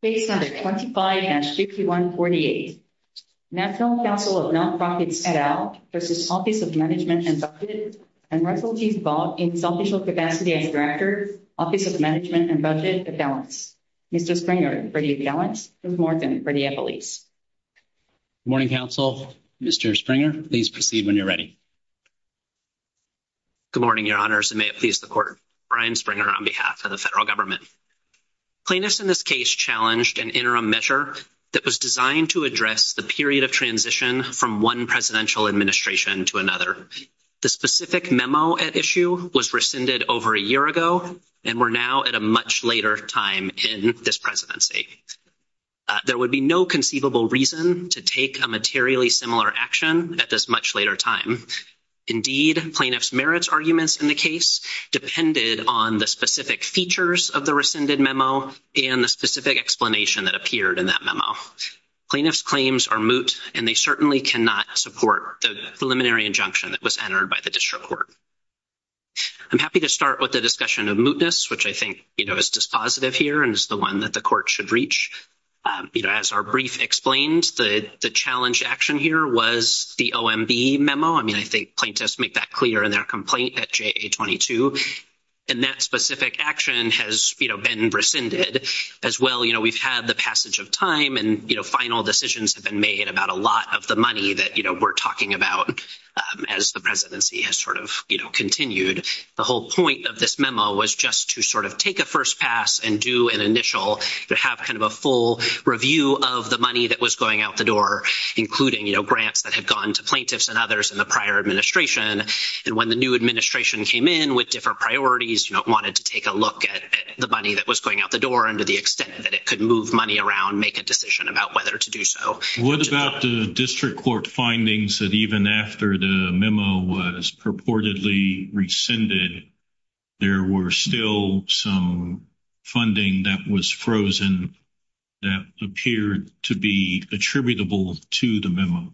Page 125 and 6148. National Council of Nonprofits et al. v. Office of Management and Budget and Resolute Involvement in Social Capacity as Director, Office of Management and Budget at Gallant. Mr. Springer, for you, Gallant is more than ready at police. Good morning, counsel. Mr. Springer, please proceed when you're ready. Good morning, your honors, and may it please the court. Brian Springer on behalf of the federal government. Plaintiffs in this case challenged an interim measure that was designed to address the period of transition from one presidential administration to another. The specific memo at issue was rescinded over a year ago, and we're now at a much later time in this presidency. There would be no conceivable reason to take a materially similar action at this much later time. Indeed, plaintiff's merits arguments in the case depended on the specific features of the rescinded memo and the specific explanation that appeared in that memo. Plaintiff's claims are moot, and they certainly cannot support the preliminary injunction that was entered by the district court. I'm happy to start with the discussion of mootness, which I think, you know, is dispositive here and is the one that the court should reach. You know, as our brief explains, the challenge action here was the OMB memo. I mean, I think plaintiffs make that clear in their complaint at JA-22, and that specific action has, you know, been rescinded. As well, you know, we've had the passage of time, and, you know, final decisions have been made about a lot of the money that, you know, we're talking about as the presidency has sort of, you know, continued. The whole point of this memo was just to sort of take a first pass and do an initial, to have kind of a full review of the money that was going out the door, including, you know, grants that had gone to plaintiffs and others in the prior administration. And when the new administration came in with different priorities, you know, wanted to take a look at the money that was going out the door and to the extent that it could move money around, make a decision about whether to do so. What about the district court findings that even after the memo was purportedly rescinded, there were still some funding that was frozen that appeared to be attributable to the memo?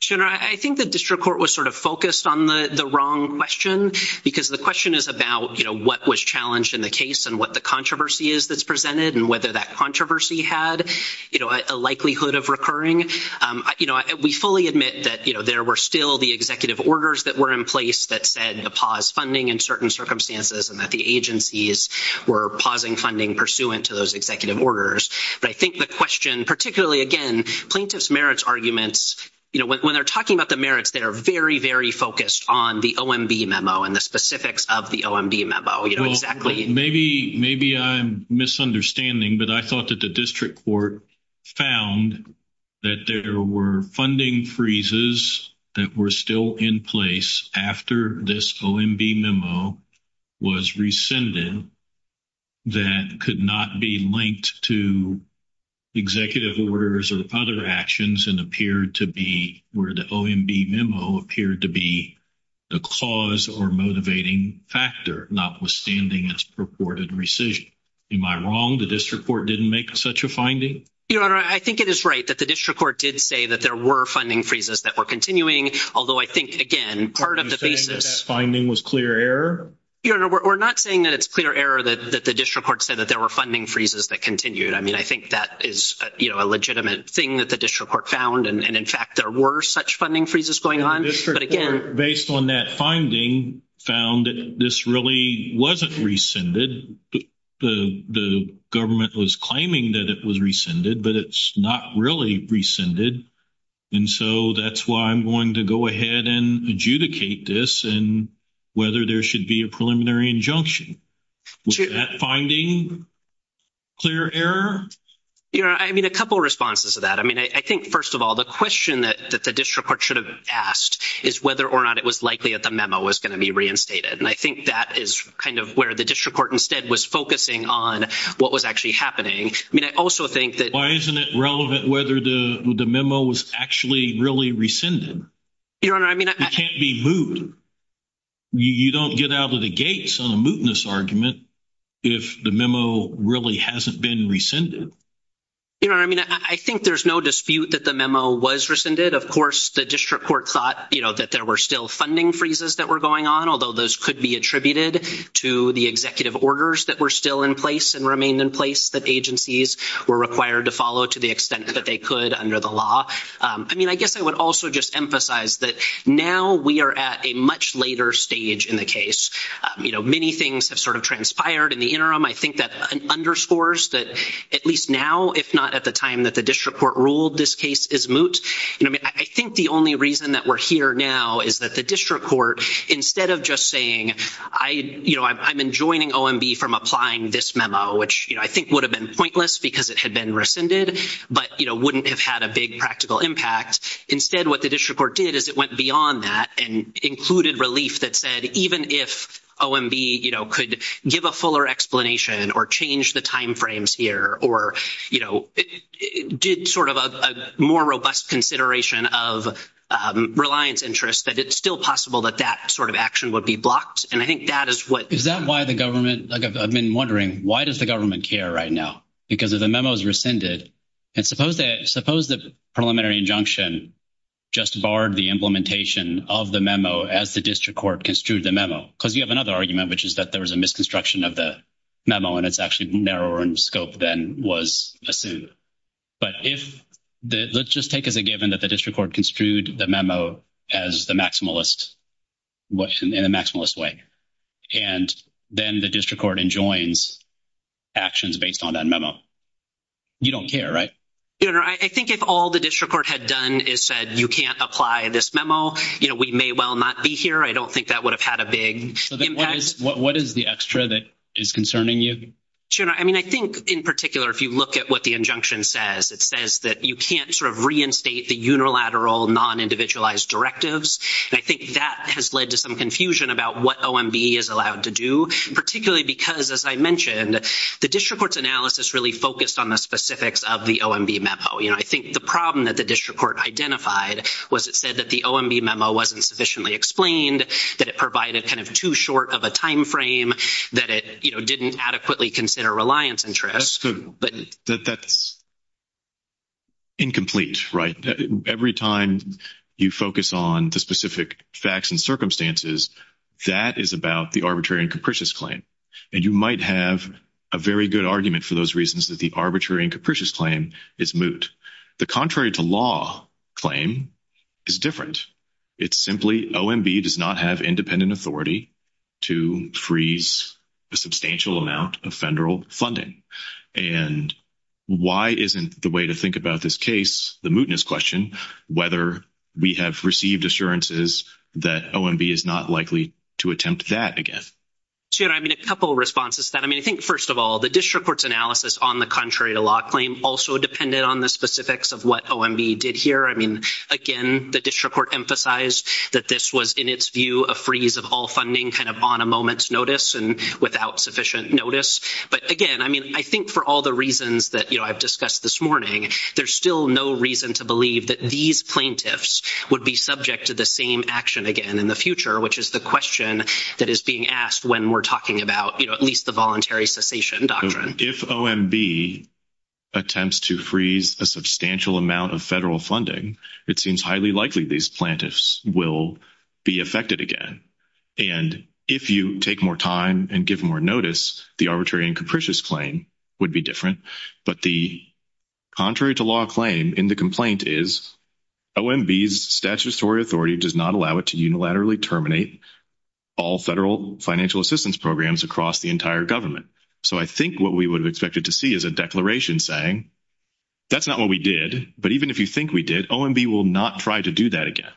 General, I think the district court was sort of focused on the wrong question, because the question is about, you know, what was challenged in the case and what the controversy is that's presented and whether that controversy had, you know, a likelihood of recurring. You know, we fully admit that, you know, there were still the executive orders that were in place that said to pause funding in certain circumstances and that the agencies were pausing funding pursuant to those executive orders. But I think the question, particularly, again, plaintiff's merits arguments, you know, when they're talking about the merits, they're very, very focused on the OMB memo and the specifics of the OMB memo, you know, exactly. Maybe I'm misunderstanding, but I thought that the district court found that there were funding freezes that were still in place after this OMB memo was rescinded that could not be linked to executive orders or other actions and appeared to be where the OMB memo appeared to be the cause or motivating factor, notwithstanding this purported rescission. Am I wrong? The district court didn't make such a finding? Your Honor, I think it is right that the district court did say that there were funding freezes that were continuing, although I think, again, part of the basis- Are you saying that that finding was clear error? Your Honor, we're not saying that it's clear error that the district court said that there were funding freezes that continued. I mean, I think that is, you know, a legitimate thing that the district court found. And in fact, there were such funding freezes going on. Based on that finding found that this really wasn't rescinded. The government was claiming that it was rescinded, but it's not really rescinded. And so that's why I'm going to go ahead and adjudicate this and whether there should be a preliminary injunction. Was that finding clear error? Your Honor, I mean, a couple of responses to that. I mean, I think, first of all, the question that the district court should have asked is whether or not it was likely that the memo was going to be reinstated. And I think that is kind of where the district court instead was focusing on what was actually happening. I mean, I also think that- Why isn't it relevant whether the memo was actually really rescinded? Your Honor, I mean- It can't be moot. You don't get out of the gates on a mootness argument if the memo really hasn't been rescinded. Your Honor, I mean, I think there's no dispute that the memo was rescinded. Of course, the district court thought, you know, that there were still funding freezes that were going on, although those could be attributed to the executive orders that were still in place and remained in place that agencies were required to follow to the extent that they could under the law. I mean, I guess I would also just emphasize that now we are at a much later stage in the case. You know, many things have sort of transpired in the interim. I think that underscores that at least now, if not at the time that the district court ruled this case is moot. I mean, I think the only reason that we're here now is that the district court, instead of just saying, you know, I'm enjoining OMB from applying this memo, which I think would have been pointless because it had been rescinded, but, you know, wouldn't have had a big practical impact. Instead, what the district court did is it went beyond that and included relief that said, even if OMB, you know, could give a fuller explanation or change the timeframes here, or, you know, did sort of a more robust consideration of reliance interest, that it's still possible that that sort of action would be blocked. And I think that is what... Is that why the government, like I've been wondering, why does the government care right now? Because if the memo is rescinded, and suppose the preliminary injunction just barred the implementation of the memo as the district court construed the memo, because you have another argument, which is that there was a misconstruction of the memo, and it's actually narrower in scope than was assumed. But if... Let's just take as a given that the district court construed the memo as the maximalist, in a maximalist way. And then the district court enjoins actions based on that memo. You don't care, right? I think if all the district court had done is said, you can't apply this memo, you know, we may well not be here. I don't think that would have had a big... What is the extra that is concerning you? Sure. I mean, I think in particular, if you look at what the injunction says, it says that you can't sort of reinstate the unilateral non-individualized directives. And I think that has led to some confusion about what OMB is allowed to do, particularly because, as I mentioned, the district court's analysis really focused on the specifics of the OMB memo. You know, I think the problem that the district court identified was it said that the OMB memo wasn't sufficiently explained, that it provided kind of too short of a timeframe, that it, you know, didn't adequately consider reliance interest. That's the... That's incomplete, right? Every time you focus on the specific facts and circumstances, that is about the arbitrary and capricious claim. And you might have a very good argument for those reasons that the arbitrary and capricious claim is moot. The contrary to law claim is different. It's simply OMB does not have independent authority to freeze a substantial amount of federal funding. And why isn't the way to think about this case, the mootness question, whether we have received assurances that OMB is not likely to attempt that again? Sure. I mean, a couple of responses to that. I mean, I think, first of all, the district court's analysis on the contrary to law claim also depended on the specifics of what OMB did here. I mean, again, the district court emphasized that this was, in its view, a freeze of all funding kind of on a moment's notice and without sufficient notice. But again, I mean, I think for all the reasons that, you know, I've discussed this morning, there's still no reason to believe that these plaintiffs would be subject to the same action again in the future, which is the question that is being asked when we're talking about, you know, at least the voluntary cessation doctrine. If OMB attempts to freeze a substantial amount of federal funding, it seems highly likely these plaintiffs will be affected again. And if you take more time and give more notice, the arbitrary and capricious claim would be different. But the contrary to law claim in the complaint is OMB's statutory authority does not allow it unilaterally terminate all federal financial assistance programs across the entire government. So I think what we would have expected to see is a declaration saying, that's not what we did, but even if you think we did, OMB will not try to do that again.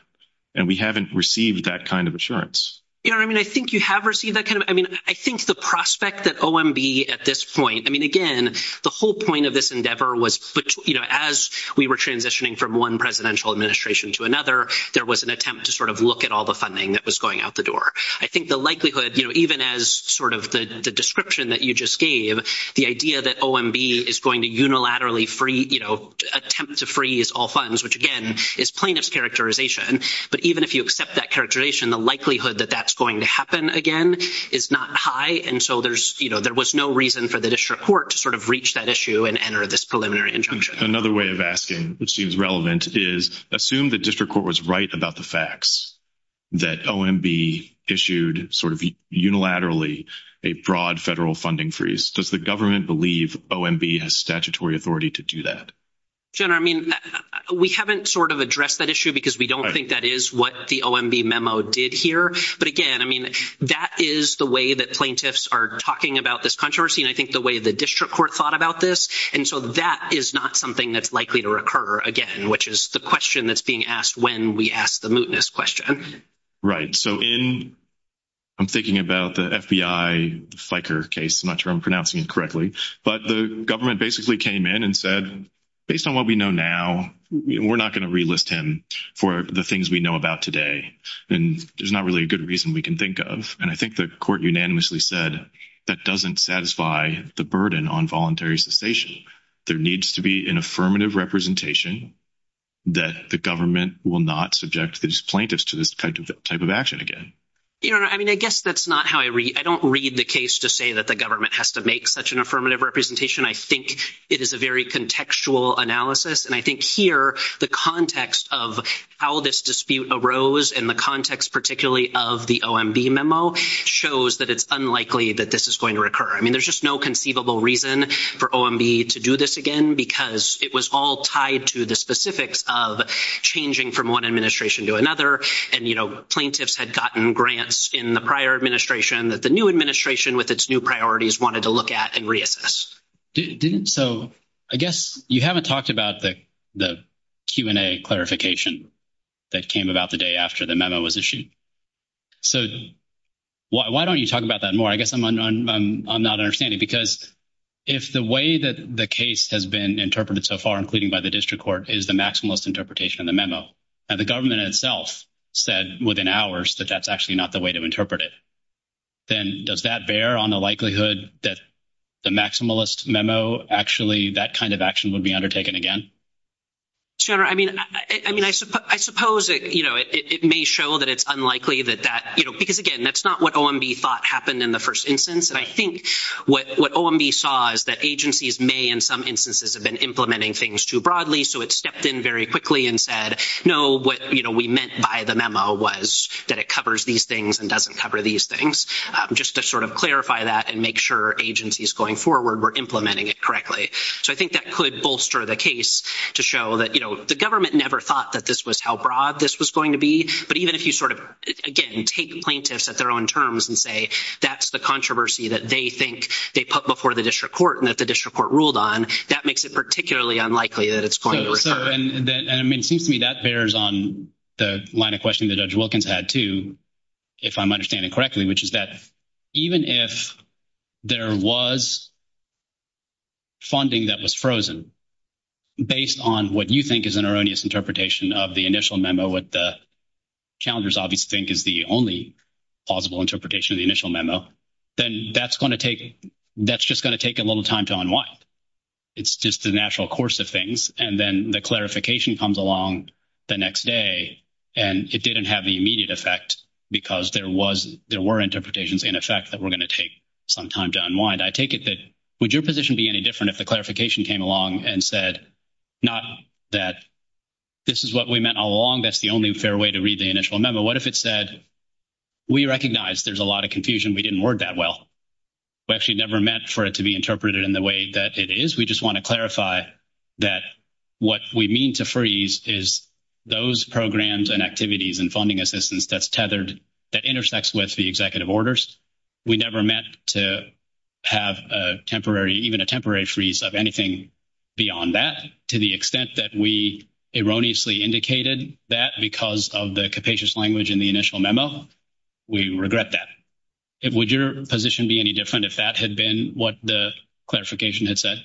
And we haven't received that kind of assurance. You know what I mean? I think you have received that kind of, I mean, I think the prospect that OMB at this point, I mean, again, the whole point of this endeavor was, you know, as we were transitioning from one presidential administration to another, there was an attempt to sort of look at all the funding that was going out the door. I think the likelihood, you know, even as sort of the description that you just gave, the idea that OMB is going to unilaterally free, you know, attempt to freeze all funds, which again is plaintiff's characterization. But even if you accept that characterization, the likelihood that that's going to happen again is not high. And so there's, you know, there was no reason for the district court to sort of reach that issue and enter this preliminary injunction. Another way of asking, which seems relevant, is assume the district court was right about the that OMB issued sort of unilaterally a broad federal funding freeze. Does the government believe OMB has statutory authority to do that? General, I mean, we haven't sort of addressed that issue because we don't think that is what the OMB memo did here. But again, I mean, that is the way that plaintiffs are talking about this controversy, and I think the way the district court thought about this. And so that is not something that's likely to occur again, which is the question that's being asked when we ask the mootness question. Right. So in, I'm thinking about the FBI Fikre case, I'm not sure I'm pronouncing it correctly, but the government basically came in and said, based on what we know now, we're not going to relist him for the things we know about today. And there's not really a good reason we can think of. And I think the court unanimously said that doesn't satisfy the burden on voluntary cessation. There needs to be an affirmative representation that the government will not subject these plaintiffs to this type of action again. You know, I mean, I guess that's not how I read. I don't read the case to say that the government has to make such an affirmative representation. I think it is a very contextual analysis. And I think here, the context of how this dispute arose and the context, particularly of the OMB memo, shows that it's unlikely that this is going to occur. I mean, there's just no conceivable reason for OMB to do this again, because it was all tied to the specifics of changing from one administration to another. And, you know, plaintiffs had gotten grants in the prior administration that the new administration with its new priorities wanted to look at and reassess. So I guess you haven't talked about the Q&A clarification that came about the day after the memo was issued. So why don't you talk about that more? I guess I'm not understanding, because if the way that the case has been interpreted so far, including by the district court, is the maximalist interpretation of the memo, and the government itself said within hours that that's actually not the way to interpret it, then does that bear on the likelihood that the maximalist memo, actually, that kind of action would be undertaken again? Sure. I mean, I suppose it, you know, it may show that it's unlikely that that, you know, because, again, that's not what OMB thought happened in the first instance. And I think what OMB saw is that agencies may, in some instances, have been implementing things too broadly. So it stepped in very quickly and said, no, what, you know, we meant by the memo was that it covers these things and doesn't cover these things, just to sort of clarify that and make sure agencies going forward were implementing it correctly. So I think that could bolster the case to show that, you know, the government never thought that this was how broad this was going to be. But even if you sort of, again, take plaintiffs at their own terms and say that's the controversy that they think they put before the district court and that the district court ruled on, that makes it particularly unlikely that it's going to recur. And I mean, it seems to me that bears on the line of questioning that Judge Wilkins had too, if I'm understanding correctly, which is that even if there was funding that was frozen, based on what you think is an erroneous interpretation of the initial memo, what the calendars obviously think is the only possible interpretation of the initial memo, then that's going to take, that's just going to take a little time to unwind. It's just the natural course of things. And then the clarification comes along the next day, and it didn't have the immediate effect because there was, there were interpretations in effect that were going to take some time to unwind. I take it that, would your position be any different if the clarification came along and said not that this is what we meant all along, that's the only fair way to read the initial memo. What if it said, we recognize there's a lot of confusion, we didn't word that well. We actually never meant for it to be interpreted in the way that it is. We just want to clarify that what we mean to freeze is those programs and activities and funding assistance that's tethered, that intersects with the executive orders. We never meant to have a temporary, even a temporary freeze of anything beyond that to the extent that we erroneously indicated that because of the capacious language in the initial memo. We regret that. Would your position be any different if that had been what the clarification had said?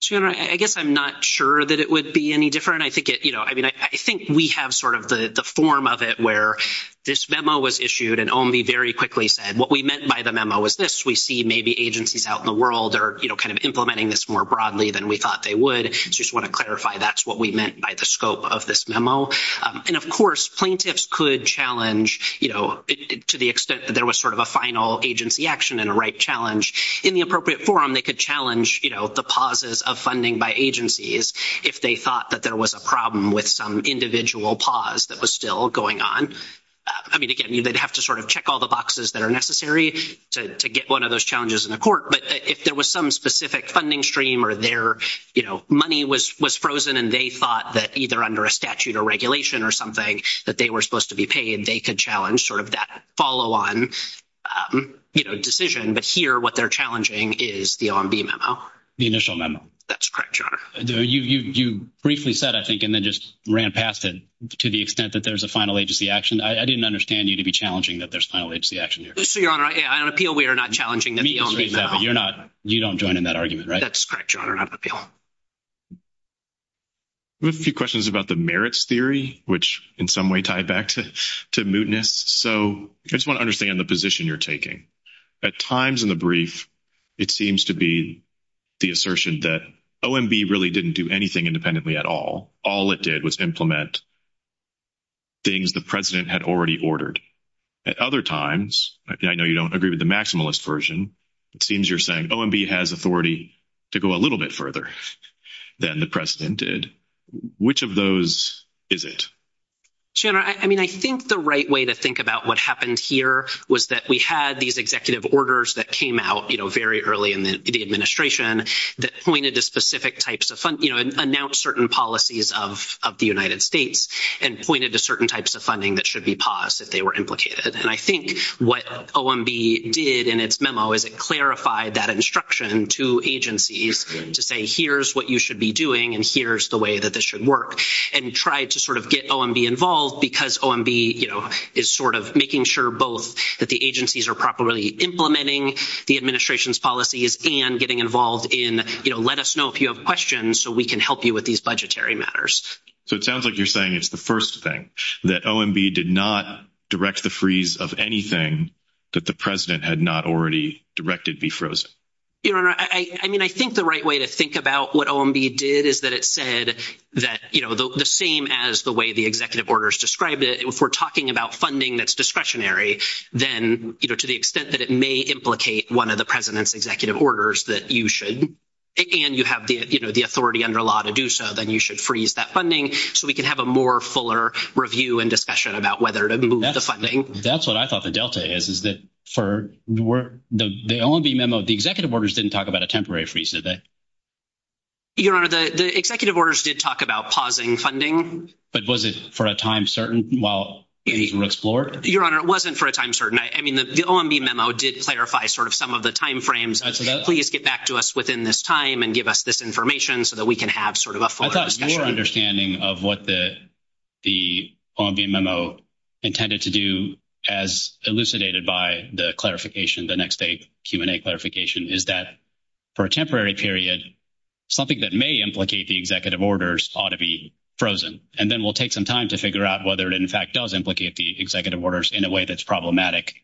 Sure. I guess I'm not sure that it would be any different. I think it, you know, I mean, I think we have sort of the form of it where this memo was issued and only very quickly said what meant by the memo is this. We see maybe agencies out in the world are, you know, kind of implementing this more broadly than we thought they would. I just want to clarify that's what we meant by the scope of this memo. And of course, plaintiffs could challenge, you know, to the extent that there was sort of a final agency action and a right challenge. In the appropriate forum, they could challenge, you know, the pauses of funding by agencies if they thought that there was a problem with some individual pause that was still going on. I mean, again, you would have to sort of check all the boxes that are necessary to get one of those challenges in the court. But if there was some specific funding stream or their, you know, money was frozen and they thought that either under a statute or regulation or something that they were supposed to be paid, they could challenge sort of that follow-on, you know, decision. But here, what they're challenging is the OMB memo. The initial memo. That's correct, Your Honor. You briefly said, I think, and then just ran past it, to the extent that there's a final agency action. I didn't understand you to be challenging that there's a final agency action here. Yes, Your Honor. I appeal we are not challenging this OMB memo. You're not. You don't join in that argument, right? That's correct, Your Honor. I appeal. We have a few questions about the merits theory, which in some way tied back to mootness. So, I just want to understand the position you're taking. At times in the brief, it seems to be the assertion that OMB really didn't do anything independently at all. All it did was implement things the president had already ordered. At other times, I know you don't agree with the maximalist version, it seems you're saying OMB has authority to go a little bit further than the president did. Which of those is it? Your Honor, I mean, I think the right way to think about what happened here was that we had these executive orders that came out, you know, very early in the administration that pointed to specific types of, you know, announced certain policies of the United States. And pointed to certain types of funding that should be paused if they were implicated. And I think what OMB did in its memo is it clarified that instruction to agencies to say, here's what you should be doing and here's the way that this should work. And tried to sort of get OMB involved because OMB, you know, is sort of making sure both that the agencies are properly implementing the administration's policies and getting involved in, you know, let us know if you have questions so we can help you with these budgetary matters. So, it sounds like you're saying it's the first thing. That OMB did not direct the freeze of anything that the president had not already directed be frozen. Your Honor, I mean, I think the right way to think about what OMB did is that it said that, you know, the same as the way the executive orders described it, if we're talking about funding that's discretionary, then, you know, to the extent that it may implicate one of the president's executive orders that you should, and you have the, you know, the authority under law to do so, then you should freeze that funding so we can have a more fuller review and discussion about whether to move the funding. That's what I thought the delta is, is that for the OMB memo, the executive orders didn't talk about a temporary freeze, did they? Your Honor, the executive orders did talk about pausing funding. But was it for a time certain while anything was explored? Your Honor, it wasn't for a time certain. I mean, the OMB memo did clarify sort of some of the timeframes. Please get back to us within this time and give us this information so that we can have sort of a fuller discussion. I thought your understanding of what the OMB memo intended to do, as elucidated by the clarification, the next day Q&A clarification, is that for a temporary period, something that may implicate the executive orders ought to be frozen. And then we'll take some time to figure out whether it, in fact, does implicate the executive orders in a way that's problematic.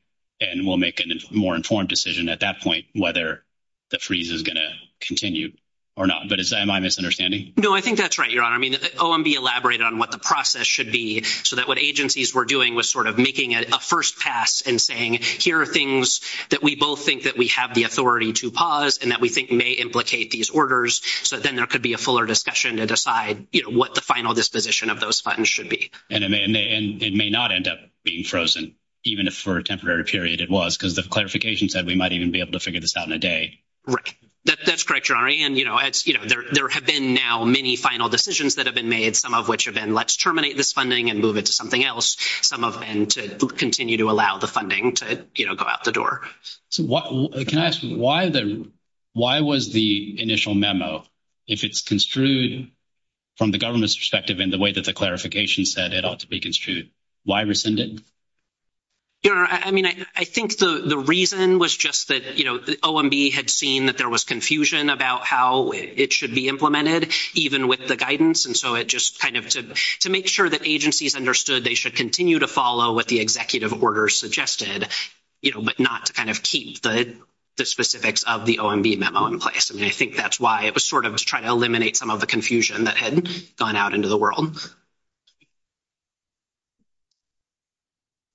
And we'll make a more informed decision at that point whether the freeze is going to continue or not. But am I misunderstanding? No, I think that's right, Your Honor. I mean, the OMB elaborated on what the process should be so that what agencies were doing was sort of making a first pass and saying, here are things that we both think that we have the authority to pause and that we think may implicate these orders so that then there could be a fuller discussion to decide, you know, what the final disposition of those funds should be. And it may not end up being frozen, even if for a temporary period it was, because the clarification said we might even be able to figure this out in a day. Right. That's correct, Your Honor. And, you know, there have been now many final decisions that have been made, some of which have been, let's terminate this funding and move it to something else, some of them to continue to allow the funding to, you know, go out the door. So what, can I ask, why was the initial memo, if it's construed from the government's perspective in the way that the clarification said it ought to be construed, why rescinded? Your Honor, I mean, I think the reason was just that, you know, OMB had seen that there was confusion about how it should be implemented, even with the guidance. And so it just kind of, to make sure that agencies understood they should continue to follow what the executive order suggested, you know, but not to kind of keep the specifics of the OMB memo in place. And I think that's why it was sort of trying to eliminate some of the confusion that had gone out into the world.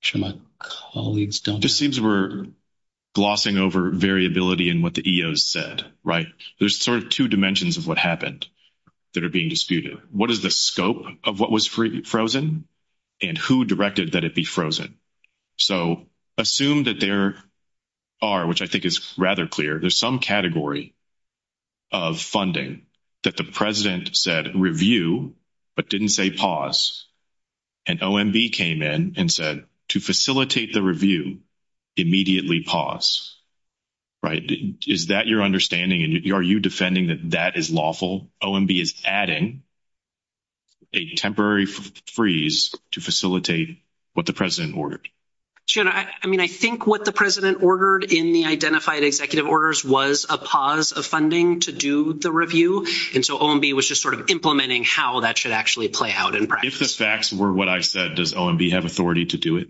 I'm sure my colleagues don't... It just seems we're glossing over variability in what the EOs said, right? There's sort of two dimensions of what happened that are being disputed. What is the scope of what was frozen and who directed that it be frozen? So assume that there are, which I think is rather clear, there's some category of funding that the president said review, but didn't say pause. And OMB came in and said to facilitate the review, immediately pause, right? Is that your understanding? And are you defending that that is lawful? OMB is adding a temporary freeze to facilitate what the president ordered. Your Honor, I mean, I think what the president ordered in the identified executive orders was a pause of funding to do the review. And so OMB was just sort of implementing how that should actually play out. If the facts were what I said, does OMB have authority to do it?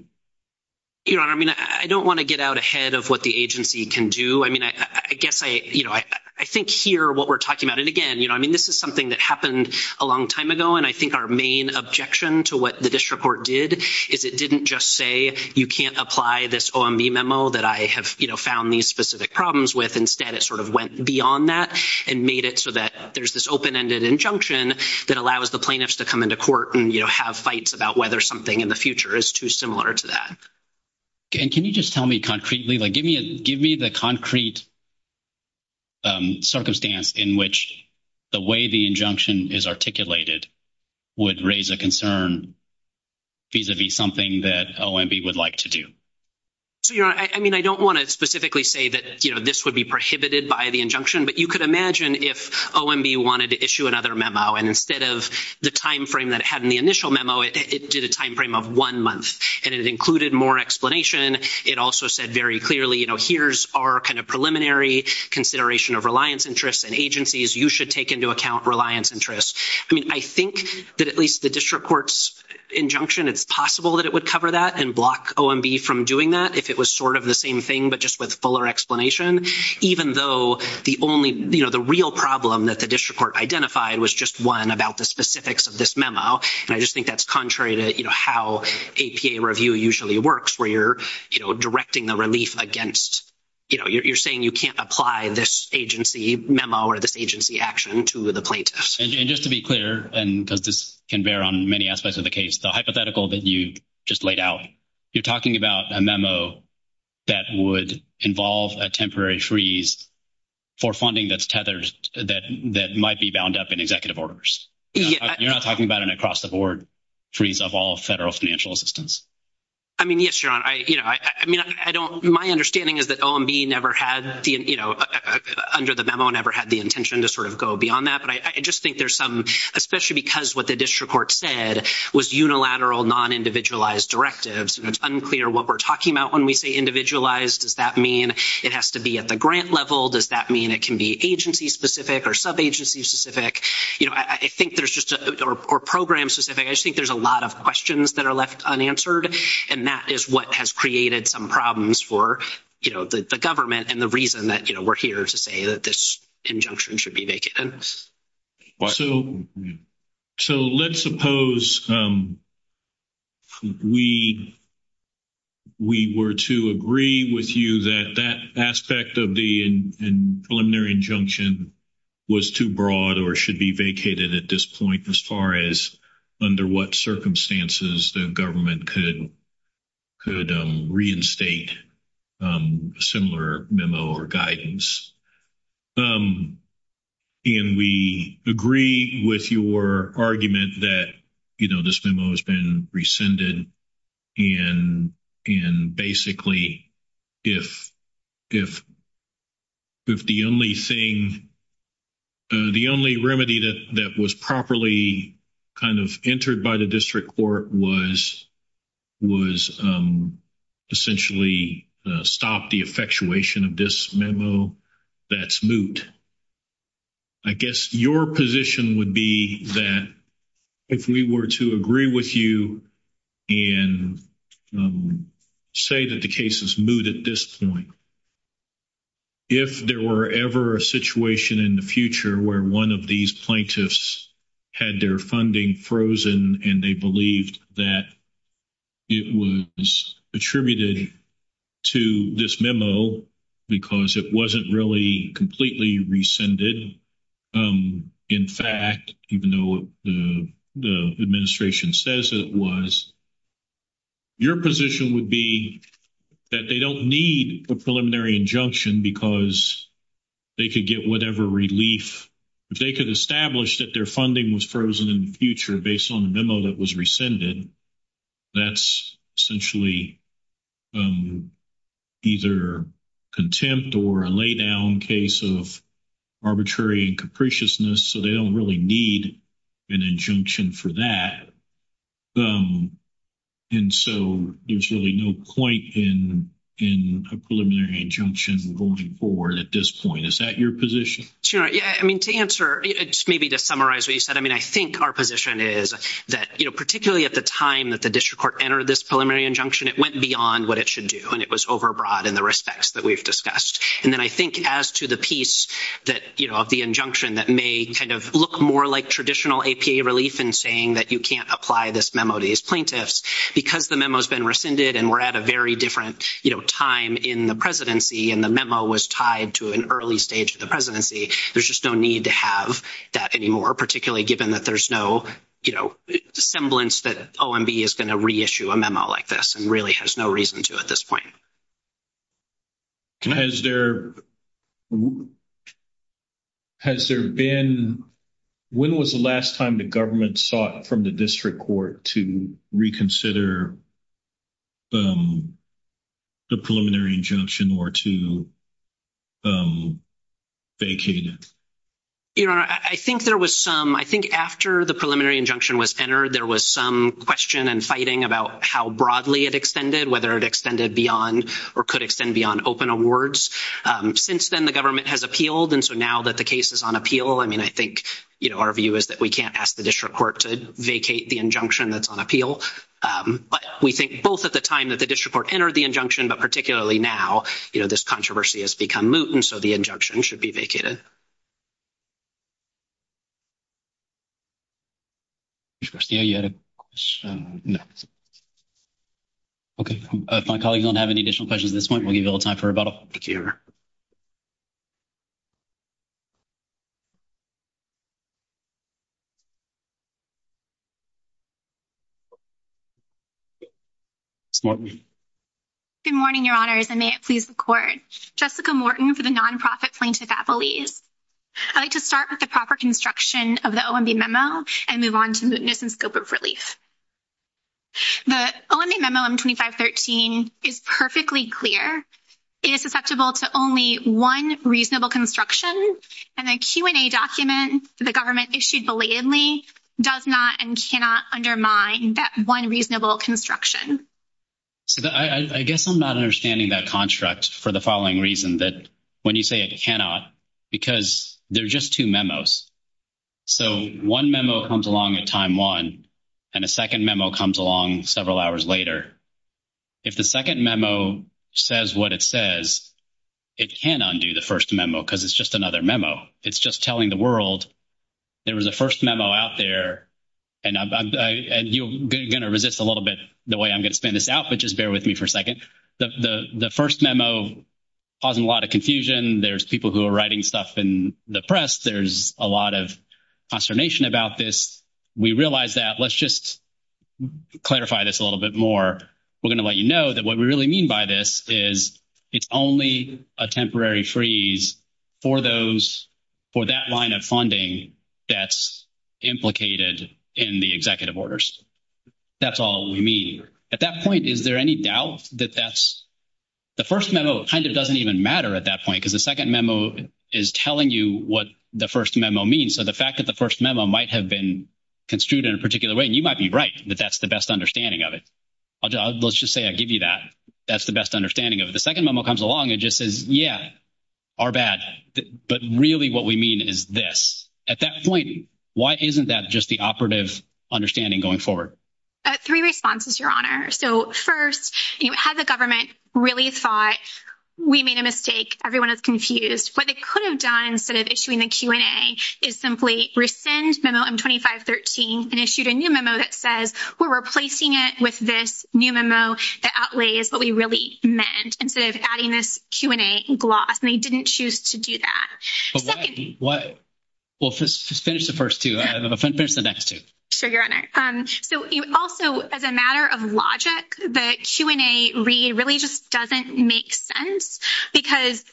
Your Honor, I mean, I don't want to get out ahead of what the agency can do. I mean, I guess I, you know, I think here what we're talking about, and again, you know, I mean, this is something that happened a long time ago. And I think our main objection to what the district court did is it didn't just say you can't apply this OMB memo that I have, you know, found these specific problems with. Instead, it sort of went beyond that and made it so that there's this open-ended injunction that allows the plaintiffs to come into court and, you know, have fights about whether something in the future is too similar to that. And can you just tell me concretely, like, give me the concrete circumstance in which the way the injunction is articulated would raise a concern vis-a-vis something that OMB would like to do? So, Your Honor, I mean, I don't want to specifically say that, you know, this would be prohibited by the injunction. But you could imagine if OMB wanted to issue another memo, and instead of the time frame that it had in the initial memo, it did a time frame of one month. And it included more explanation. It also said very clearly, you know, here's our kind of preliminary consideration of reliance interests and agencies. You should take into account reliance interests. I mean, I think that at least the district court's injunction, it's possible that it would cover that and block OMB from doing that if it was sort of the same thing, but just with fuller explanation, even though the only, you know, the real problem that the district court identified was just one about the specifics of this memo. And I just think that's contrary to, you know, how APA review usually works where you're, you know, directing the relief against, you know, you're saying you can't apply this agency memo or this agency action to the plaintiffs. And just to be clear, and because this can bear on many aspects of the case, the hypothetical that you just laid out, you're talking about a memo that would involve a temporary freeze for funding that's tethered, that might be bound up in executive orders. You're not talking about an across-the-board freeze of all federal financial assistance. I mean, yes, Your Honor. I, you know, I mean, I don't, my understanding is that OMB never had the, you know, under the memo never had the intention to sort of go beyond that. But I just think there's some, especially because what the district court said was unilateral, non-individualized directives. And it's unclear what we're talking about when we say individualized. Does that mean it has to be at the grant level? Does that mean it can be agency specific or sub-agency specific? You know, I think there's just a, or program specific, I just think there's a lot of questions that are left unanswered. And that is what has created some problems for, you know, the government and the reason that, you know, we're here to say that this injunction should be vacant. So let's suppose we were to agree with you that that aspect of the preliminary injunction was too broad or should be vacated at this point, as far as under what circumstances the government could reinstate similar memo or guidance. And we agree with your argument that, you know, this memo has been rescinded. And basically, if the only thing, the only remedy that was properly kind of entered by the district court was essentially stop the effectuation of this memo, that's moot. I guess your position would be that if we were to agree with you and say that the case is moot at this point, if there were ever a situation in the future where one of these plaintiffs had their funding frozen and they believed that it was attributed to this memo because it wasn't really completely rescinded, in fact, even though the administration says it was, your position would be that they don't need a preliminary injunction because they could get whatever relief. If they could establish that their funding was frozen in the future based on the memo that was rescinded, that's essentially either contempt or a laydown case of arbitrary and capriciousness. So they don't really need an injunction for that. And so there's really no point in a preliminary injunction going forward at this point. Is that your position? Sure. Yeah. I mean, to answer, maybe to summarize what you said, I mean, I think our position is that, you know, particularly at the time that the district court entered this preliminary injunction, it went beyond what it should do. And it was overbroad in the respects that we've discussed. And then I think as to the piece that, you know, of the injunction that may kind of look more like traditional APA relief in saying that you can't apply this memo to these plaintiffs because the memo has been rescinded and we're at a very different, you know, time in the presidency and the memo was tied to an early stage of the presidency. There's just no need to have that anymore, particularly given that there's no, you know, semblance that OMB is going to reissue a memo like this and really has no reason to at this point. Has there been, when was the last time the government sought from the district court to reconsider the preliminary injunction or to vacate it? You know, I think there was some, I think after the preliminary injunction was entered, there was some question and fighting about how broadly it extended, whether it extended beyond or could extend beyond open awards. Since then, the government has appealed. And so now that the case is on appeal, I mean, I think, you know, our view is that we can't ask the district court to vacate the injunction that's on appeal. But we think both at the time that the district court entered the injunction, but particularly now, you know, this controversy has become moot and so the injunction should be vacated. Mr. Garcia, you had a question? No. Okay. If my colleagues don't have any additional questions at this point, we'll give you a little time for questions. Good morning, Your Honors, and may it please the court. Jessica Morton for the nonprofit plaintiff at Belize. I'd like to start with the proper construction of the OMB memo and move on to mootness and scope of relief. The OMB memo on 2513 is perfectly clear. It is susceptible to only one reasonable construction and a Q&A document the government issued belatedly does not and cannot undermine that one reasonable construction. I guess I'm not understanding that construct for the following reason that when you say it cannot, because there are just two memos. So one memo comes along at time one and a second memo comes along several hours later. If the second memo says what it says, it cannot undo the first memo because it's just another memo. It's just telling the world there was a first memo out there, and you're going to resist a little bit the way I'm going to spin this out, but just bear with me for a second. The first memo caused a lot of confusion. There's people who are writing stuff in the press. There's a lot of consternation about this. We realize that. Let's just clarify this a little bit more. We're going to let you know that what we really mean by this is it's only a temporary freeze for that line of funding that's implicated in the executive orders. That's all we mean. At that point, is there any doubt that that's the first memo? It kind of doesn't even matter at that point because the second memo is telling you what the first memo means. So the fact that the first memo might have been construed in a particular way, you might be right that that's the best understanding of it. Let's just say I give you that. That's the best understanding of it. The second memo comes along and just says, yes, our bad, but really what we mean is this. At that point, why isn't that just the operative understanding going forward? Three responses, Your Honor. So first, has the government really thought we made a mistake? Everyone is confused. What they could have done instead of issuing a Q&A is simply rescind memo M2513 and issued a new memo that says we're replacing it with this new memo that outlays what we really meant instead of adding this Q&A gloss, and they didn't choose to do that. What? Well, just finish the first two. Finish the next two. Sure, Your Honor. So also, as a matter of logic, the Q&A really just doesn't make sense because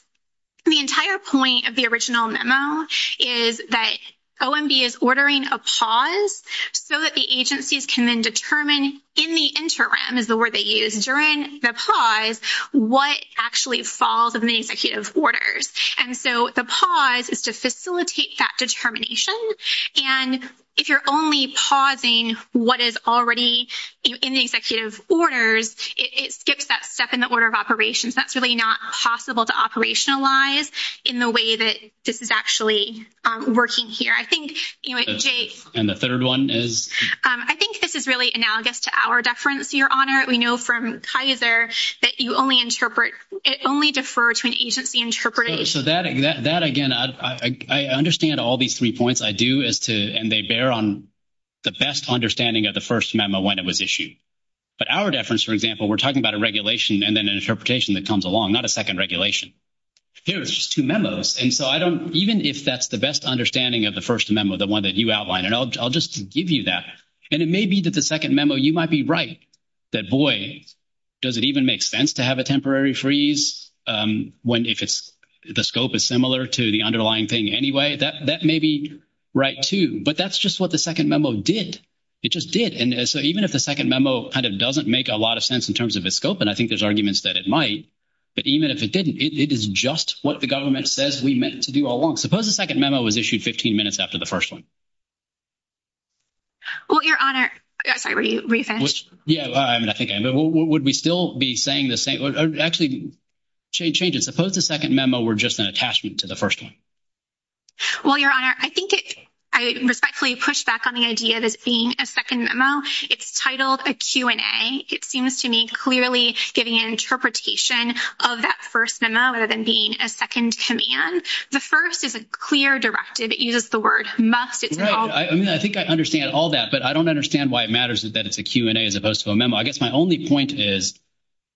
the entire point of the original memo is that OMB is ordering a pause so that the agencies can determine in the interim is the word they use, during the pause, what actually falls in the executive orders. And so the pause is to facilitate that determination. And if you're only pausing what is already in the executive orders, it skips that step in the order of operations. That's really not possible to operationalize in the way that this is actually working here. I think, this is really analogous to our deference, Your Honor. We know from Kaiser that you only interpret, only defer to an agency interpreter. So that, again, I understand all these three points. I do as to, and they bear on the best understanding of the first memo when it was issued. But our deference, for example, we're talking about a regulation and then an interpretation that comes along, not a second regulation. Here's two memos. And so I don't, even if that's the best understanding of the first memo, the one that you outlined, and I'll just give you that, and it may be that the second memo, you might be right that, boy, does it even make sense to have a temporary freeze when if it's, the scope is similar to the underlying thing anyway, that may be right too. But that's just what the second memo did. It just did. And so even if the second memo kind of doesn't make a lot of sense in terms of its scope, and I think there's arguments that it might, but even if it didn't, it is just what the government says we meant to do all along. Suppose the second memo was issued 15 minutes after the first one. Well, Your Honor, I'm sorry, were you finished? Yeah, I think I am. But would we still be saying the same, or actually, change it, suppose the second memo were just an attachment to the first one? Well, Your Honor, I think it, I respectfully push back on the idea that being a second memo, it's titled a Q&A. It seems to me clearly giving an interpretation of that first memo rather than being a second command. The first is a clear directive. It uses the word must. Right. I mean, I think I understand all that, but I don't understand why it matters that it's a Q&A as opposed to a memo. I guess my only point is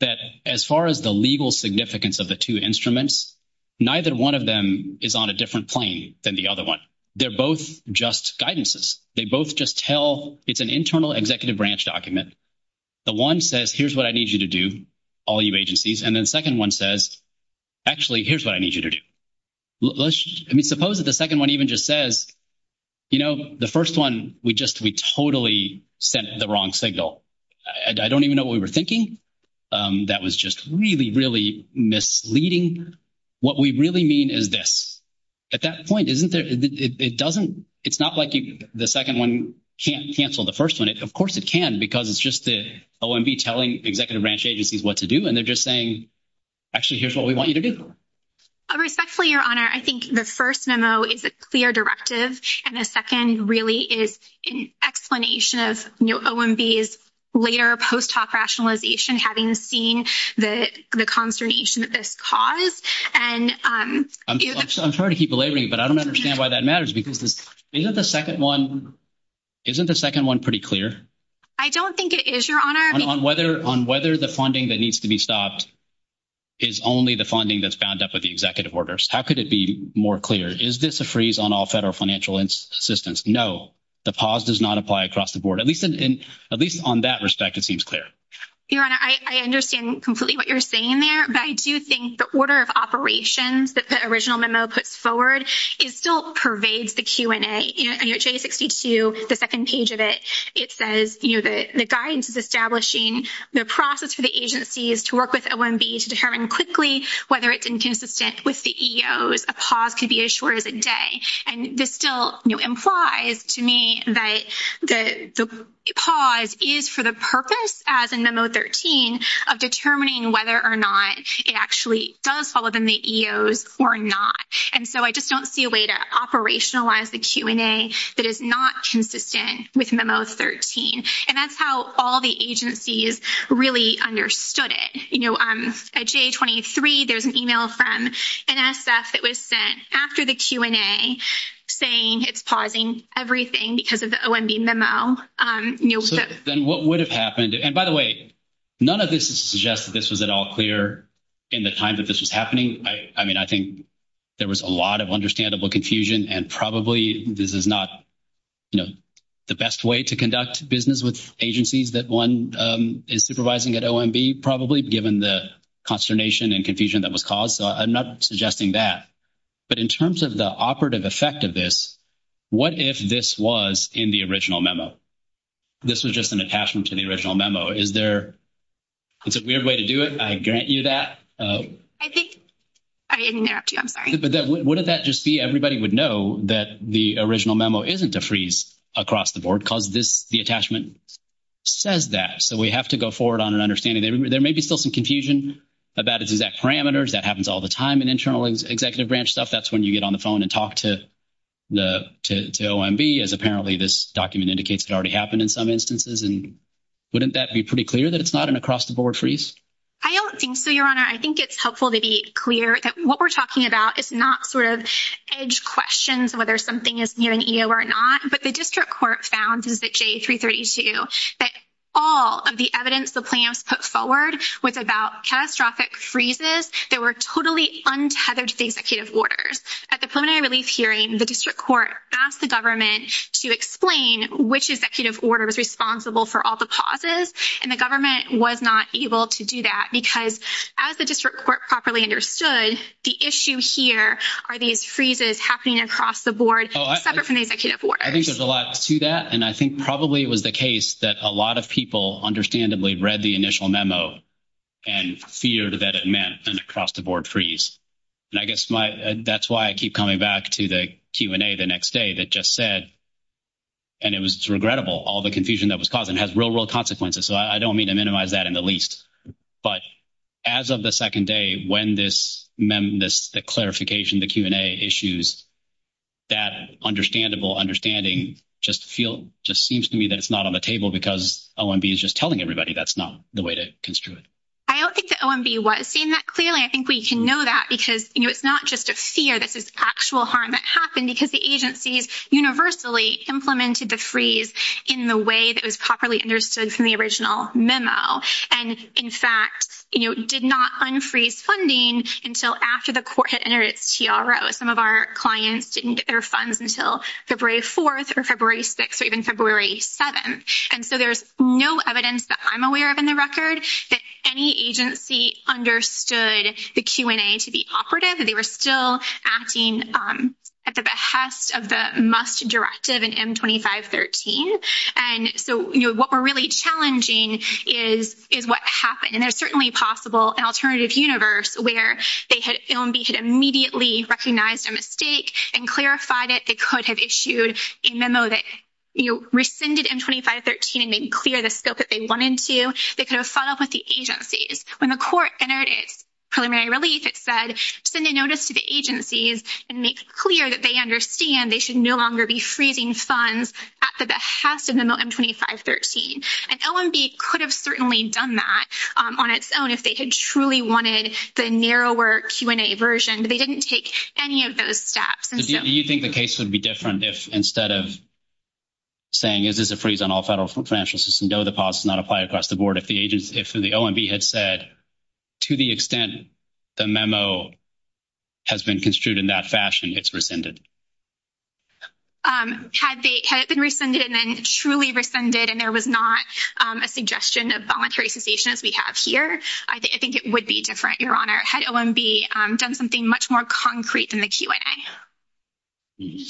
that as far as the legal significance of the two instruments, neither one of them is on a different plane than the other one. They're both just guidances. They both just tell, it's an internal executive branch document. The one says, here's what I need you to do, all you agencies. And then the second one says, actually, here's what I need you to do. Let's just, I mean, suppose that the second one even just says, you know, the first one, we just, we totally sent the wrong signal. I don't even know what we were thinking. That was just really, really misleading. What we really mean is this. At that point, isn't there, it doesn't, it's not like the second one can't cancel the first one. Of course it can, because it's just OMB telling executive branch agencies what to do, and they're just saying, actually, here's what we want you to do. Respectfully, Your Honor, I think the first memo is a clear directive, and the second really is an explanation of, you know, OMB's later post-hoc rationalization having seen the consternation of this cause. I'm sorry to keep belaboring, but I don't understand why that matters, because isn't the second one pretty clear? I don't think it is, Your Honor. On whether the funding that needs to be stopped is only the funding that's bound up with the executive orders. How could it be more clear? Is this a freeze on all federal financial assistance? No, the pause does not apply across the board. At least on that respect, it seems clear. Your Honor, I understand completely what you're saying there, but I do think the order of operations that the original memo puts forward, it still pervades the Q&A. You know, J62, the second page of it, it says, you know, the guidance is establishing the process for the agencies to work with OMB to determine quickly whether it's inconsistent with the EOs. A pause could be as short as a day, and this still, you know, implies to me that the pause is for the purpose, as in memo 13, of determining whether or not it actually does fall within the EOs or not, and so I just don't see a way to operationalize the Q&A that is not consistent with memo 13, and that's how all the agencies really understood it. You know, at J23, there's an email from NSF that was sent after the Q&A saying it's pausing everything because of the OMB memo. Then what would have happened, and by the way, none of this suggests that this was at all clear in the time that this was happening. I mean, I think there was a lot of understandable confusion, and probably this is not, you know, the best way to conduct business with agencies that one is supervising at OMB, probably, given the consternation and confusion that was caused, so I'm not suggesting that, but in terms of the operative effect of this, what if this was in the original memo? This was just an attachment to the original memo. Is there a weird way to do it? I grant you that. I think I interrupted you. I'm sorry. What does that just be? Everybody would know that the original memo isn't a freeze across the board because the attachment says that, so we have to go forward on an understanding. There may be still some confusion about its exact parameters. That happens all the time in internal executive branch stuff. That's when you get on the phone and talk to OMB, as apparently this document indicates it already happened in some instances, and wouldn't that be pretty clear that it's not an across-the-board freeze? I don't think so, Your Honor. I think it's helpful to be clear that what we're talking about is not sort of edge questions, whether something is near an EO or not, but the district court found in the J332 that all of the evidence the plans put forward was about catastrophic freezes that were totally untethered to the executive order. At the preliminary release hearing, the district court asked the government to explain which executive order was responsible for all the pauses, and the government was not able to do that because, as the district court properly understood, the issue here are these freezes happening across the board separate from the executive order. I think there's a lot to that, and I think probably it was the case that a lot of people understandably read the initial memo and feared that it meant an across-the-board freeze, and I guess that's why I keep coming back to the Q&A the next day that just said, and it was regrettable, all the confusion that was causing. It has real-world consequences, so I don't mean to minimize that in the least, but as of the second day when this clarification, the Q&A issues, that understandable understanding just seems to me that it's not on the table because OMB is just telling everybody that's not the way to construe it. I don't think that OMB was saying that clearly. I think we can know that because, you know, it's not just a fear that this is actual harm that happened because the agencies universally implemented the freeze in the way that was properly understood from the original memo and, in fact, you know, did not unfreeze funding until after the court had entered its TRO. Some of our clients didn't get their funds until February 4th or February 6th or even February 7th, and so there's no evidence that I'm aware of in the record that any agency understood the Q&A to be operative. They were still acting at the behest of the must directive in M2513, and so, you know, what we're really challenging is what happened, and there's certainly possible an alternative universe where they had—OMB had immediately recognized a mistake and clarified it. They could have issued a memo that, you know, rescinded M2513 and then cleared the scope that they wanted to. They could have dealt with the agencies. When the court entered its preliminary release, it said, send a notice to the agencies and make it clear that they understand they should no longer be freezing funds at the behest of the memo M2513, and OMB could have certainly done that on its own if they had truly wanted the narrower Q&A version, but they didn't take any of those steps. Do you think the case would be different if instead of saying this is a freeze on all federal financial assistance, no, the policy is not applied across the board, if the OMB had said, to the extent the memo has been construed in that fashion, it's rescinded? Had it been rescinded and then truly rescinded and there was not a suggestion of voluntary cessation as we have here, I think it would be different, Your Honor. Had OMB done something much more concrete in the Q&A?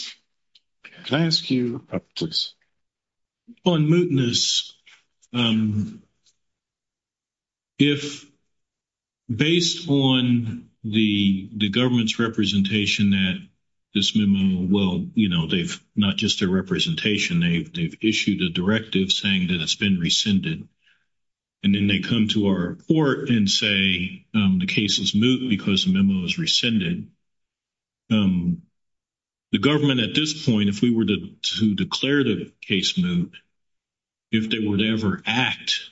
Could I ask you, please? On mootness, if based on the government's representation that this memo, well, you know, they've not just a representation, they've issued a directive saying that it's been rescinded, and then they come to our court and say the case is moot because the memo is rescinded, the government at this point, if we were to declare the case moot, if they would ever act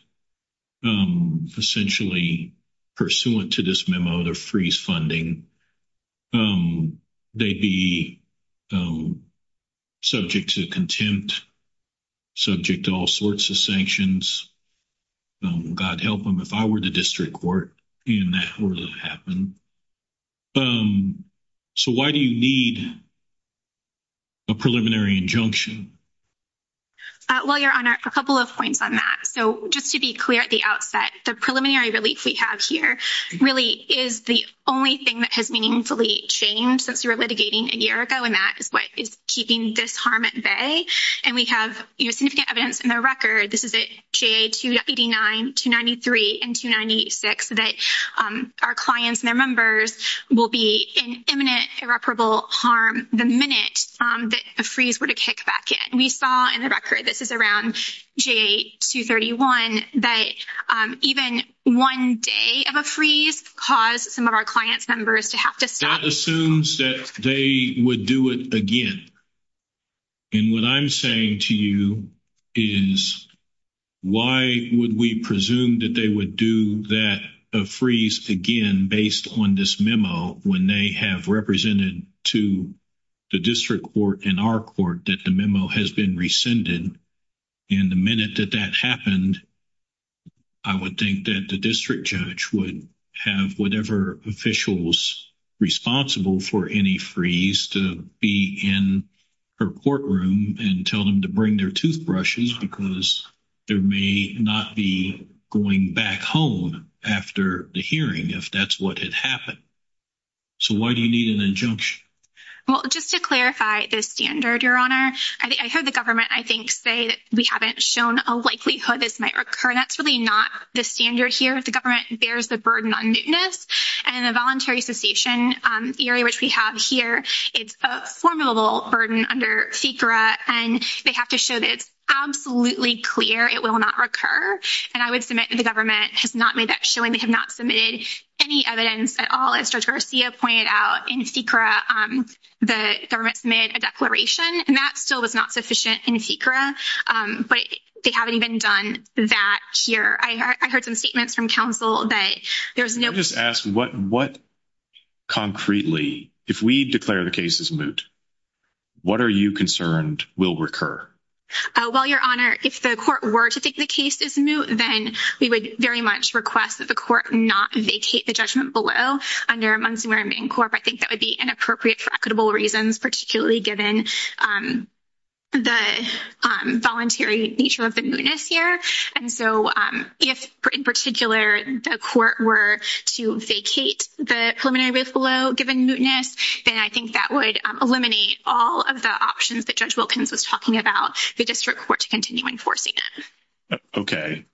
essentially pursuant to this memo to freeze funding, they'd be subject to contempt, subject to all sorts of sanctions. God help them, if I were the district court, and that were to happen. So why do you need a preliminary injunction? Well, Your Honor, a couple of points on that. So just to be clear at the outset, the preliminary relief we have here really is the only thing that has meaningfully changed since we were litigating a year ago, and that is what is keeping this harm at bay. And we have significant evidence in the record, this is at J289, 293, and 296, that our clients and their members will be in imminent irreparable harm the minute that the freeze were to kick back in. We saw in the record, this is around J231, that even one day of a freeze caused some of the damage. So what I'm saying to you is, why would we presume that they would do that, a freeze again, based on this memo, when they have represented to the district court and our court that the memo has been rescinded? And the minute that that happened, I would think that the district judge would have whatever officials responsible for any freeze to be in her courtroom and tell them to bring their toothbrushes because there may not be going back home after the hearing if that's what had happened. So why do you need an injunction? Well, just to clarify the standard, Your Honor, I heard the government, I think, say that we haven't shown a likelihood this might recur. That's really not the standard here. The government bears the burden on newness, and the voluntary cessation area, which we have here, is a formidable burden under SECRA, and they have to show that it's absolutely clear it will not recur. And I would submit that the government has not made that showing. They have not submitted any evidence at all. As Judge Garcia pointed out, in SECRA, the government submitted a declaration, and that still was not sufficient in SECRA, but they haven't even done that here. I heard some statements from counsel that there's asked what concretely, if we declare the case as moot, what are you concerned will recur? Well, Your Honor, if the court were to take the case as moot, then we would very much request that the court not vacate the judgment below under Montgomery Main Court. I think that would be inappropriate for equitable reasons, particularly given the voluntary nature of the mootness here. And so if, in particular, the court were to vacate the preliminary risk below given mootness, then I think that would eliminate all of the options that Judge Wilkins was talking about the district court to continue enforcing. Okay.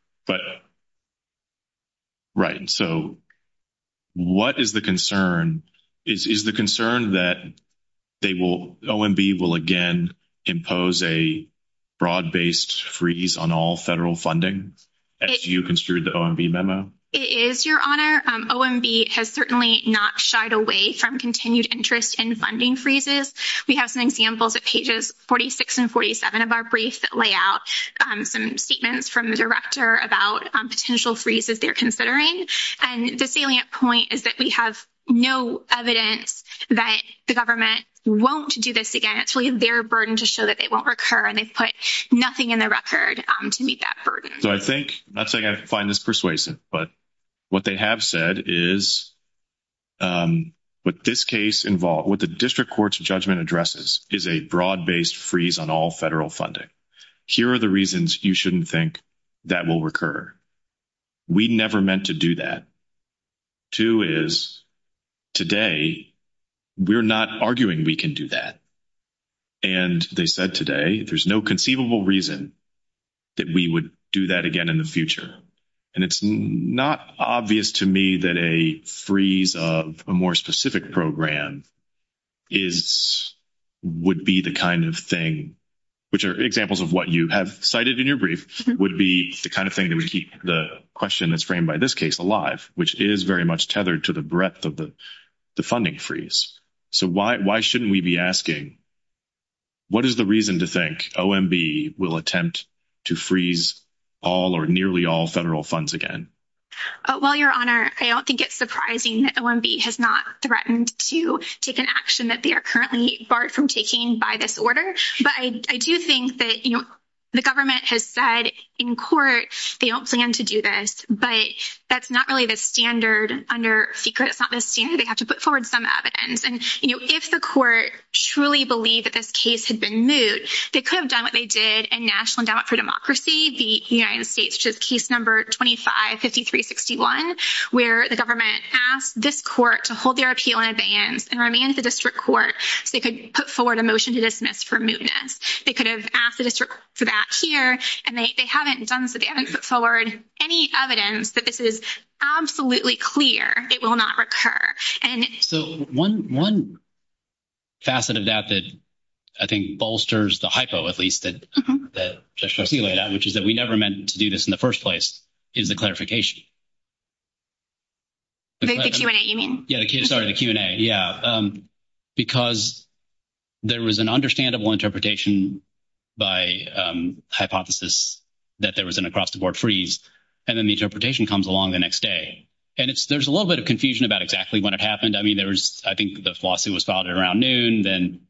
Right. So what is the concern? Is the concern that OMB will again impose a fraud-based freeze on all federal funding, as you construed the OMB memo? It is, Your Honor. OMB has certainly not shied away from continued interest in funding freezes. We have some examples at pages 46 and 47 of our briefs that lay out some statements from the director about potential freezes they're considering. And the salient point is that we have no evidence that the government won't do this again. It's really their burden to show that they won't recur, and they've put nothing in the record to meet that burden. So I think, not saying I find this persuasive, but what they have said is with this case involved, what the district court's judgment addresses is a broad-based freeze on all federal funding. Here are the reasons you shouldn't think that will recur. We never meant to do that. Two is today, we're not arguing we can do that. And they said today, there's no conceivable reason that we would do that again in the future. And it's not obvious to me that a freeze of a more specific program would be the kind of thing, which are examples of what you have cited in your brief, would be the kind of thing that would keep the question that's framed by this case alive, which is very much tethered to the breadth of the funding freeze. So why shouldn't we be asking, what is the reason to think OMB will attempt to freeze all or nearly all federal funds again? Well, Your Honor, I don't think it's surprising that OMB has not threatened to take an action that they are currently barred from taking by this order. But I do think that, you know, the government has said in court they don't plan to do this, but that's not really the standard under SECRET. It's not the standard they have to put forward some evidence. And, you know, if the court truly believed that this case had been moot, they could have done what they did in National Endowment for Democracy, the United States, which is case number 255361, where the government asked this court to hold their appeal in advance and remanded the district court. They could put forward a motion to dismiss for mootness. They could have asked the district for that here, and they haven't done so. They haven't put forward any evidence that this is absolutely clear it will not recur. So one facet of that that, I think, bolsters the hypo, at least, that Judge Garcia laid out, which is that we never meant to do this in the first place, is the clarification. The Q&A, you mean? Yeah, sorry, the Q&A, yeah. Because there was an understandable interpretation by hypothesis that there was an across-the-board freeze, and then the interpretation comes along the next day. And there's a little bit of confusion about exactly when it happened. I mean, there was, I think, the lawsuit was filed around noon. Then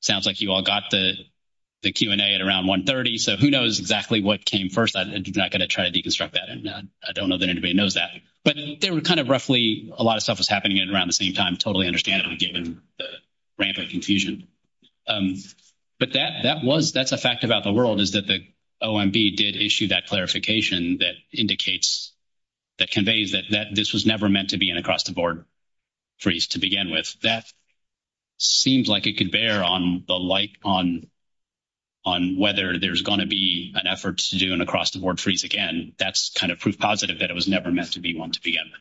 sounds like you all got the Q&A at around 1.30. So who knows exactly what came first. I'm not going to try to deconstruct that. I don't know that anybody knows that. But there were kind of roughly a lot of stuff was happening around the same time, totally understandable, given the rampant confusion. But that's a fact about the world, is that the OMB did issue that clarification that indicates, that conveys that this was never meant to be an across-the-board freeze to begin with. That seems like it could bear on the light on whether there's going to be an effort to do an across-the-board freeze again. That's kind of proof positive that it was never meant to be one to begin with.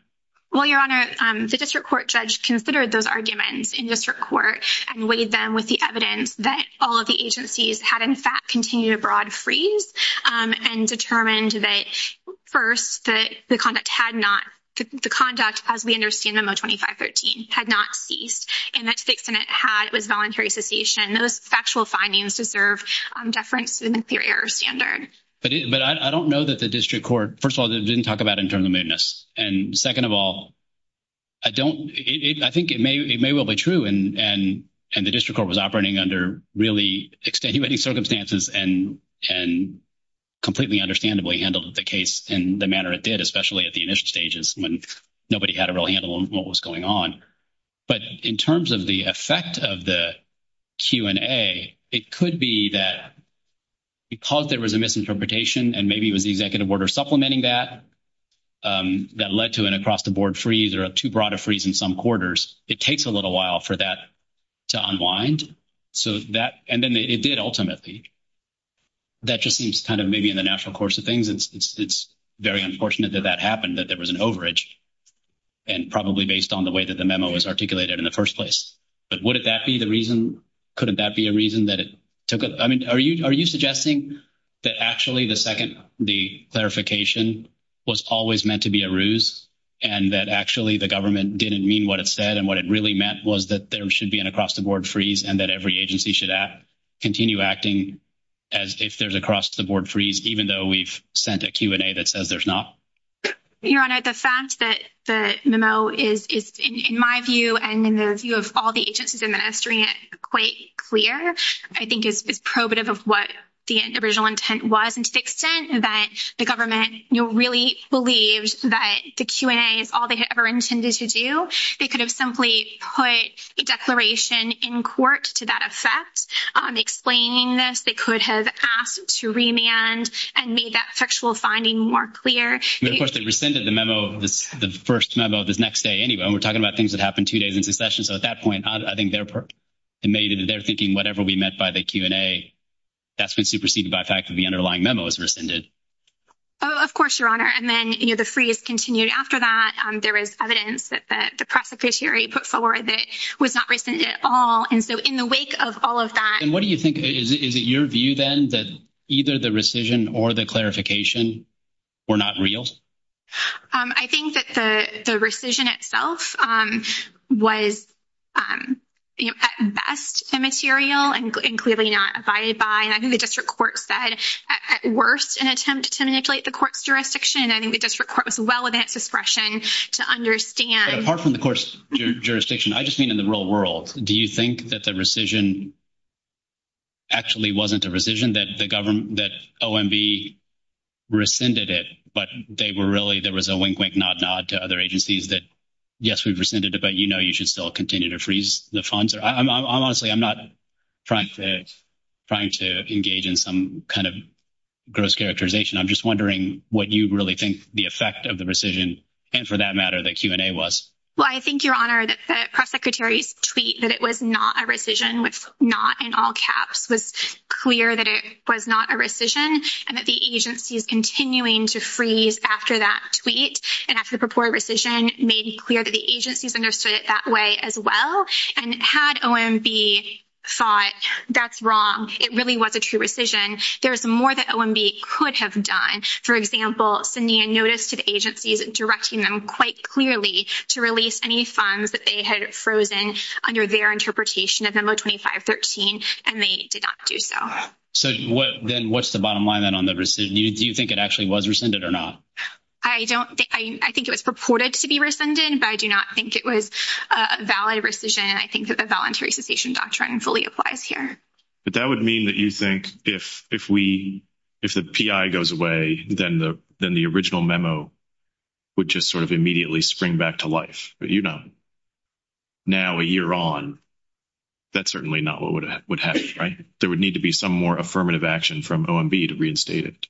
Well, Your Honor, the district court judge considered those arguments in district court and weighed them with the evidence that all of the agencies had, in fact, continued a broad freeze and determined that, first, that the conduct had not, the conduct, as we understand them, of 2513, had not ceased, and that six minutes had, was voluntary cessation. Those factual findings deserve deference and inferior standard. But I don't know that the district court, first of all, didn't talk about internal movements. And second of all, I don't, I think it may well be true, and the district court was operating under really extenuating circumstances and completely understandably handled the case in the manner it did, especially at the initial stages, when nobody had a real handle on what was going on. But in terms of the effect of the Q&A, it could be that because there was a misinterpretation, and maybe it was the executive order supplementing that, that led to an across-the-board freeze or a too-broad a freeze in some quarters, it takes a little while for that to unwind. So that, and then it did ultimately. That just seems kind of maybe in the natural course of things. It's very unfortunate that that happened, that there was an overage, and probably based on the way that the memo is articulated in the first place. But wouldn't that be the reason, couldn't that be a reason that it took, I mean, are you suggesting that actually the second, the clarification was always meant to be a ruse, and that actually the government didn't mean what it said, and what it really meant was that there should be an across-the-board freeze and that every agency should continue acting as if there's across-the-board freeze, even though we've sent a Q&A that says there's not? Your Honor, the fact that the memo is, in my view and in the view of all the agencies administering it, quite clear. I think it's probative of what the original intent was, and to the extent that the government, you know, really believed that the Q&A is all they had ever intended to do, they could have simply put a declaration in court to that effect, explaining this. They could have asked to remand and made that factual finding more clear. Of course, they rescinded the memo, the first memo the next day anyway. We're talking about things that happened two days into the session, so at that point, I think they're thinking whatever we meant by the Q&A, that's been superseded by the fact that the underlying memo is rescinded. Oh, of course, Your Honor, and then, you know, the freeze continued after that. There is evidence that the Press Secretary put forward that was not rescinded at all, and so in the wake of all of And what do you think? Is it your view, then, that either the rescission or the clarification were not real? I think that the rescission itself was, you know, at best immaterial and clearly not abided by, and I think the district court said at worst an attempt to manipulate the court's jurisdiction, and I think the district court was well within its discretion to understand Apart from the court's jurisdiction, I just mean in the real world, do you think that the rescission actually wasn't a rescission, that the government, that OMB rescinded it, but they were really, there was a wink-wink, nod-nod to other agencies that, yes, we've rescinded it, but, you know, you should still continue to freeze the funds? I'm honestly, I'm not trying to engage in some kind of gross characterization. I'm just wondering what you really think the effect of the rescission, and for that matter, the Q&A was. Well, I think, Your Honor, that the was clear that it was not a rescission, and that the agency is continuing to freeze after that tweet, and after the purported rescission, it may be clear that the agency's understood it that way as well, and had OMB thought, that's wrong, it really was a true rescission, there was more that OMB could have done. For example, sending a notice to the agencies directing them quite clearly to release any funds that they had frozen under their interpretation of memo 2513, and they did not do so. So, what, then, what's the bottom line, then, on the rescission? Do you think it actually was rescinded or not? I don't think, I think it was purported to be rescinded, but I do not think it was a valid rescission. I think that the voluntary cessation doctrine fully applies here. But that would mean that you think, if we, if the PI goes away, then the original memo would just sort of immediately spring back to life. But, you know, now, a year on, that's certainly not what would happen, right? There would need to be some more affirmative action from OMB to reinstate it.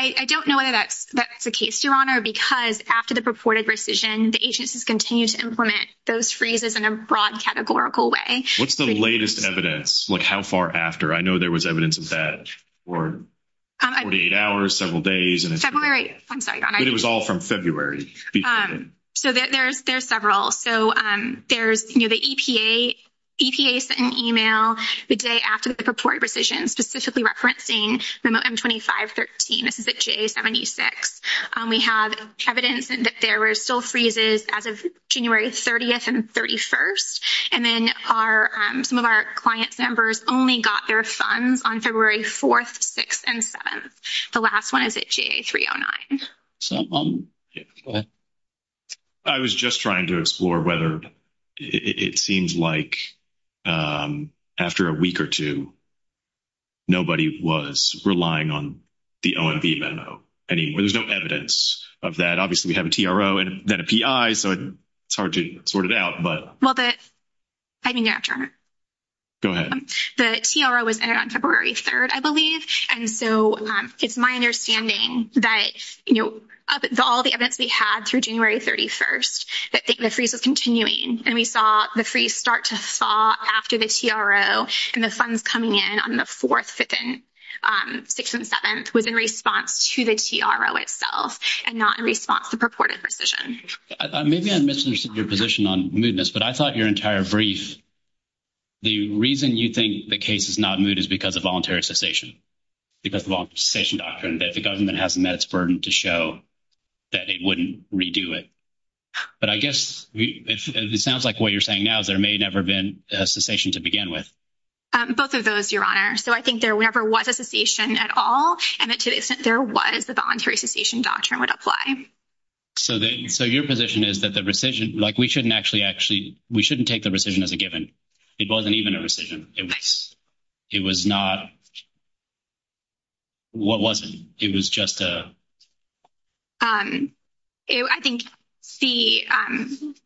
I don't know whether that's the case, Your Honor, because after the purported rescission, the agencies continue to implement those freezes in a broad categorical way. What's the latest evidence? Like, how far after? I know there was evidence of that for 48 hours, several days. I'm sorry, Your Honor. It was all from February. So, there's several. So, there's, you know, the EPA sent an email the day after the purported rescission, specifically referencing memo M2513, this is a JA76. We have evidence that there were still freezes as of January 30th and 31st, and then our, some of our client's members only got their funds on February 4th, 6th, and 7th. The last one is at JA309. I was just trying to explore whether it seems like after a week or two, nobody was relying on the OMB memo. I mean, there's no evidence of that. Obviously, we have a TRO and then a PI, so it's hard to sort it out, but. Well, I can answer. Go ahead. The TRO was entered on February 3rd, I believe, and so it's my understanding that, you know, of all the evidence we had through January 31st, that the freeze was continuing, and we saw the freeze start to thaw after the TRO, and the funds coming in on the 4th, 6th, and 7th was in response to the TRO itself and not in response to purported rescission. Maybe I'm missing your position on movements, but I thought your entire brief, the reason you think the case is not moved is because of voluntary cessation, because of the cessation doctrine, that the government has met its burden to show that it wouldn't redo it. But I guess, as it sounds like what you're saying now, there may never have been a cessation to begin with. Both of those, Your Honor. So, I think there never was a cessation at all, and to the extent there was, the voluntary cessation doctrine would apply. So, your position is that the rescission, like, we shouldn't actually actually, we shouldn't take the rescission as a given. It wasn't even a rescission. It was not, what was it? It was just a... I think the,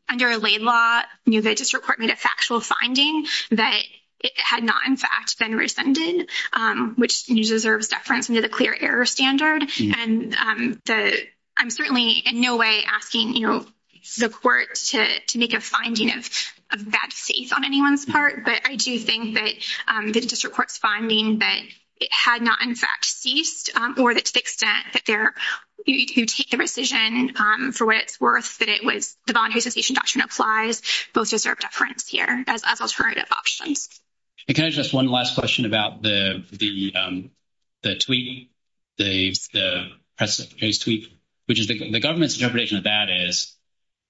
under a laid law, you know, the district court made a factual finding that it had not, in fact, been rescinded, which deserves reference into the error standard. And I'm certainly in no way asking, you know, the court to make a finding of a bad case on anyone's part, but I do think that the district court's finding that it had not, in fact, ceased, or that to the extent that there, you take the rescission for what it's worth, that it was, the voluntary cessation doctrine applies, both deserve reference here as an alternative option. And can I ask just one last question about the tweak, the precedent case tweak, which is the government's interpretation of that is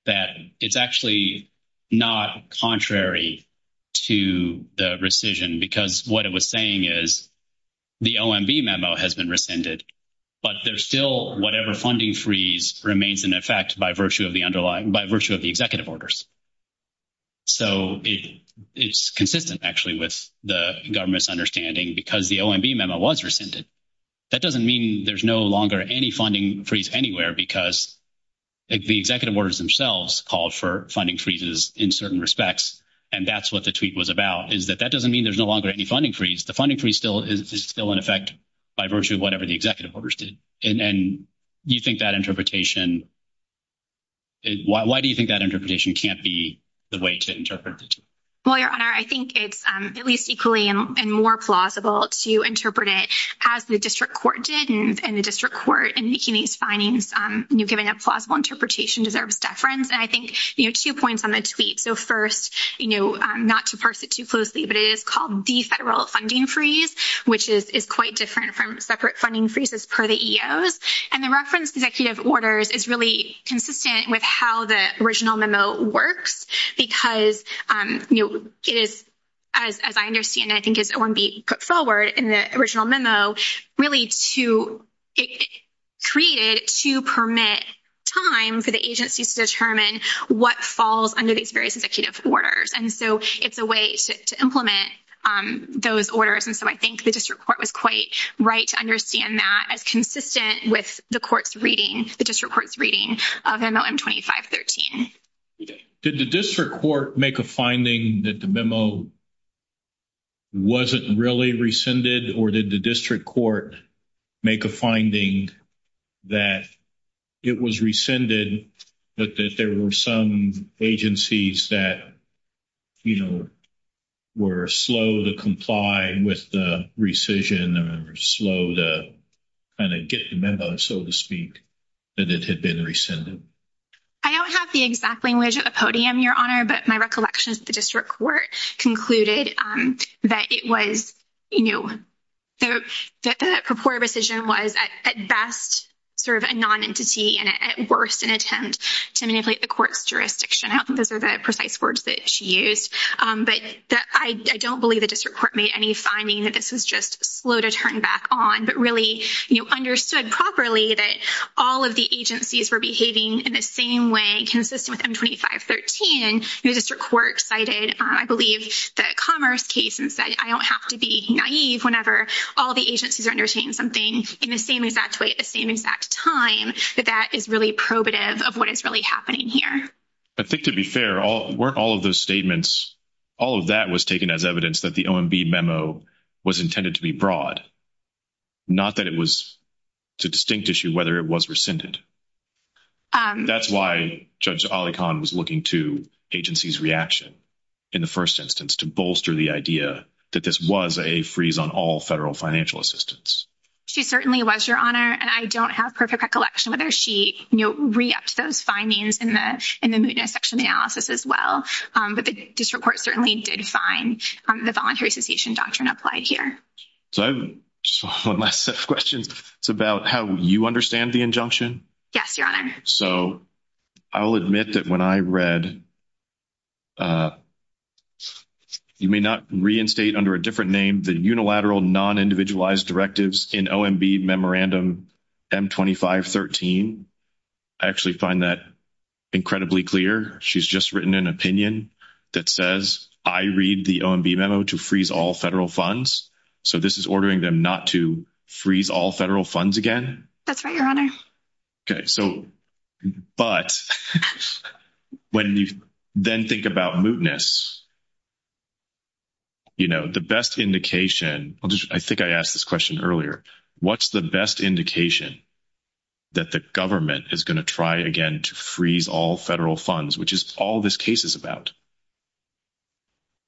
that it's actually not contrary to the rescission, because what it was saying is the OMB memo has been rescinded, but there's still whatever funding freeze remains in effect by virtue of the underlying, by virtue of the executive orders. So it's consistent, actually, with the government's understanding, because the OMB memo was rescinded. That doesn't mean there's no longer any funding freeze anywhere, because the executive orders themselves called for funding freezes in certain respects, and that's what the tweak was about, is that that doesn't mean there's no longer any funding freeze. The funding freeze is still in effect by virtue of whatever the executive orders did. And you think that interpretation is, why do you think that interpretation can't be the way to interpret it? Well, your honor, I think it's at least equally and more plausible to interpret it as the district court did, and the district court in making these findings, you know, giving a plausible interpretation deserves deference. And I think, you know, two points on the tweet. So first, you know, not to parse it too closely, but it is called the federal funding freeze, which is quite different from separate funding freezes per the EOs. And the reference to executive orders is really consistent with how the original memo works, because, you know, it is, as I understand it, I think it's OMB put forward in the original memo, really to—it's created to permit time for the agency to determine what falls under these various executive orders. And so it's a way to implement those orders. And so I think the district court was quite right to understand that as consistent with the court's reading, the district court's reading of MLM 2513. Did the district court make a finding that the memo wasn't really rescinded, or did the district court make a finding that it was rescinded, that there were some agencies that, you know, were slow to comply with the rescission or slow to kind of get the memo, so to speak, that it had been rescinded? I don't have the exact language at the podium, Your Honor, but my recollection is the district court concluded that it was, you know, that the purported rescission was at best sort of a attempt to manipulate the court's jurisdiction. I don't think those are the precise words that she used. But I don't believe the district court made any finding that this was just slow to turn back on, but really, you know, understood properly that all of the agencies were behaving in the same way consistent with M2513. The district court cited, I believe, the Commerce case and said, I don't have to be naive whenever all the agencies are saying something in the same exact way at the same exact time, that that is really probative of what is really happening here. I think, to be fair, weren't all of those statements, all of that was taken as evidence that the OMB memo was intended to be broad, not that it was a distinct issue whether it was rescinded. That's why Judge Ali Khan was looking to agencies' reaction in the first instance to bolster the idea that this was a freeze on all financial assistance. She certainly was, Your Honor, and I don't have perfect recollection whether she, you know, re-upped those findings in the section analysis as well. But the district court certainly did find the voluntary cessation doctrine applied here. So my last question is about how you understand the injunction. Yes, Your Honor. So I'll admit that when I read, and you may not reinstate under a different name, the unilateral non-individualized directives in OMB Memorandum M2513, I actually find that incredibly clear. She's just written an opinion that says, I read the OMB memo to freeze all federal funds. So this is ordering them not to freeze all federal funds again? That's right, Your Honor. Okay. So, but when you then think about mootness, you know, the best indication, I think I asked this question earlier, what's the best indication that the government is going to try again to freeze all federal funds, which is all this case is about?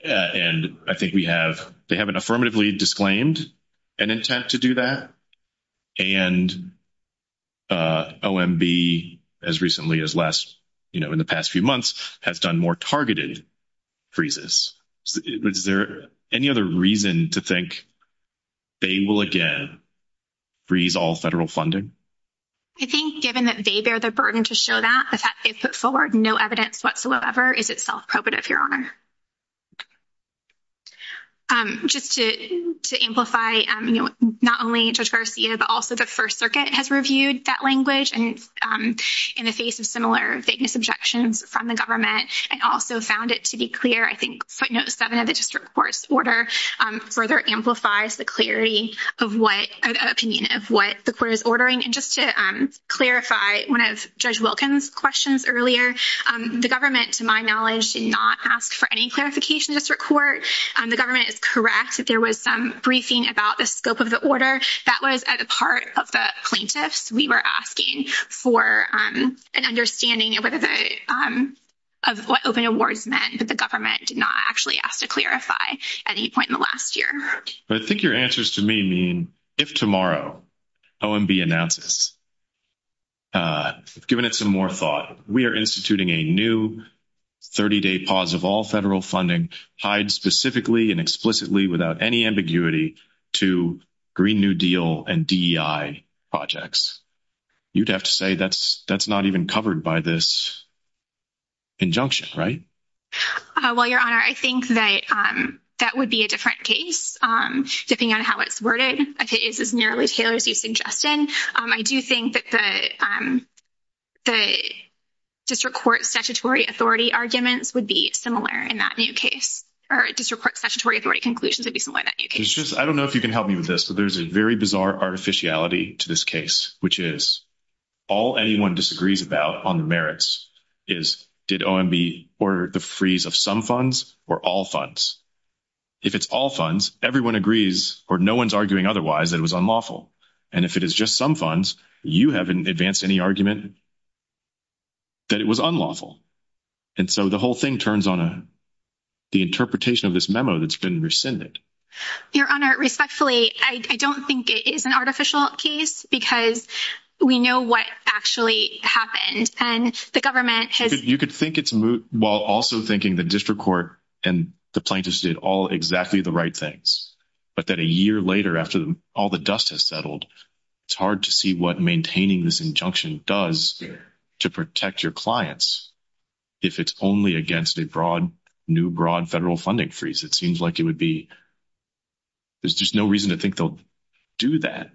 And I think we have, they have an affirmatively disclaimed an intent to do that. And OMB, as recently as last, you know, in the past few months have done more targeted freezes. Is there any other reason to think they will again freeze all federal funding? I think given that they bear the burden to show that, the fact that they put forward no evidence whatsoever is itself probative, Your Honor. Just to amplify, you know, not only Judge Garcia, but also the First Circuit has reviewed that language and in the face of similar vagueness objections from the government, and also found it to be clear, I think, note seven of the district court's order further amplifies the clarity of what, an opinion of what the court is ordering. And just to clarify, one of Judge Wilkins' questions earlier, the government, to my knowledge, did not ask for a freeze of any clarification of district court. The government is correct that there was some briefing about the scope of the order. That was at the part of the plaintiffs. We were asking for an understanding of what open awards meant that the government did not actually ask to clarify at any point in the last year. But I think your answers to me mean, if tomorrow OMB announces, given it some more thought, we are instituting a new 30-day pause of all federal funding, tied specifically and explicitly without any ambiguity to Green New Deal and DEI projects, you'd have to say that's not even covered by this injunction, right? Well, Your Honor, I think that that would be a different case, depending on how it's worded. It's as narrowly tailored as you've suggested. I do think that the statutory authority arguments would be similar in that new case, or district court statutory authority conclusions would be similar in that new case. I don't know if you can help me with this, but there's a very bizarre artificiality to this case, which is all anyone disagrees about on the merits is, did OMB order the freeze of some funds or all funds? If it's all funds, everyone agrees, or no one's arguing otherwise, that it was unlawful. And if it is just some funds, you haven't advanced any argument that it was unlawful. And so the whole thing turns on the interpretation of this memo that's been rescinded. Your Honor, respectfully, I don't think it is an artificial case, because we know what actually happened. And the government has... You could think it's moot while also thinking the district court and the plaintiffs did all exactly the right things. But then a year later, after all the dust has settled, it's hard to see what maintaining this injunction does to protect your clients. If it's only against a new, broad federal funding freeze, it seems like it would be... There's just no reason to think they'll do that.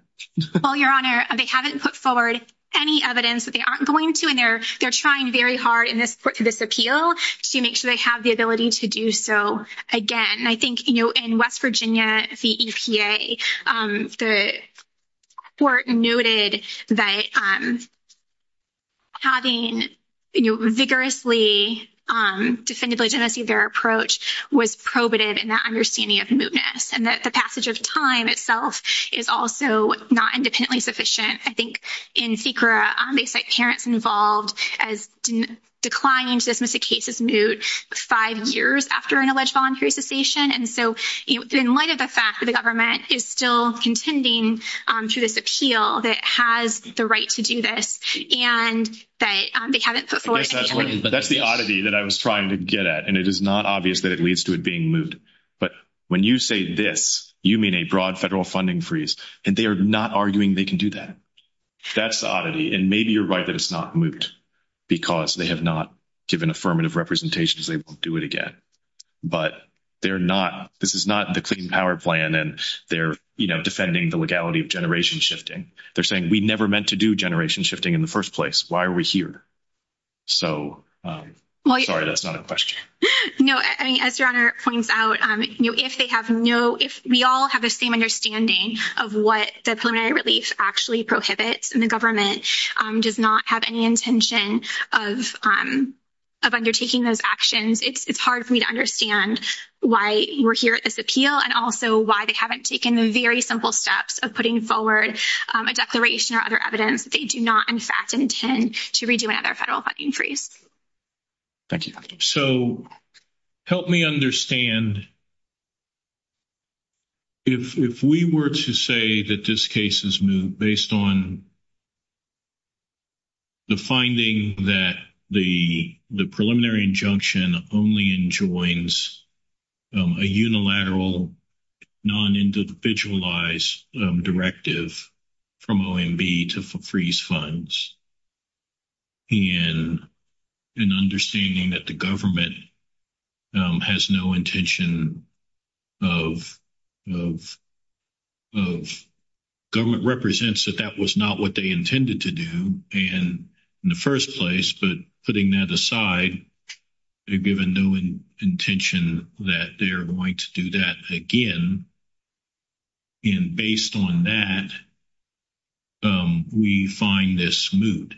Well, Your Honor, they haven't put forward any evidence that they aren't going to, and they're trying very hard in this appeal to make sure they have the ability to do so again. In West Virginia, the EPA, the court noted that having vigorously defended the legitimacy of their approach was probated in that understanding of mootness, and that the passage of time itself is also not independently sufficient. I think in Sikora, on the basis that parents involved as declining to dismiss the case is moot five years after an alleged voluntary cessation. And so in light of the fact that the government is still contending to this appeal that it has the right to do this, and that they haven't put forward... That's the oddity that I was trying to get at, and it is not obvious that it leads to it being moot. But when you say this, you mean a broad federal funding freeze, and they are not arguing they can do that. That's the oddity, and maybe you're right that it's not moot, because they have not given affirmative representations they won't do it again. But they're not... This is not the Clean Power Plan, and they're defending the legality of generation shifting. They're saying, we never meant to do generation shifting in the first place. Why are we here? So, sorry, that's not a question. No, and as your honor points out, if they have no... If we all have the same understanding of what the preliminary relief actually prohibits, and the government does not have any intention of undertaking those actions, it's hard for me to understand why we're here at this appeal, and also why they haven't taken the very simple steps of putting forward a declaration or other evidence that they do not, in fact, intend to redo another federal funding freeze. Thank you. So, help me understand if we were to say that this case is moot based on the finding that the preliminary injunction only enjoins a unilateral, non-individualized directive from OMB to freeze funds, and an understanding that the government has no intention of... Government represents that that was not what they intended to do in the first place, but putting that aside, they've given no intention that they're going to do that again, and based on that, we find this moot.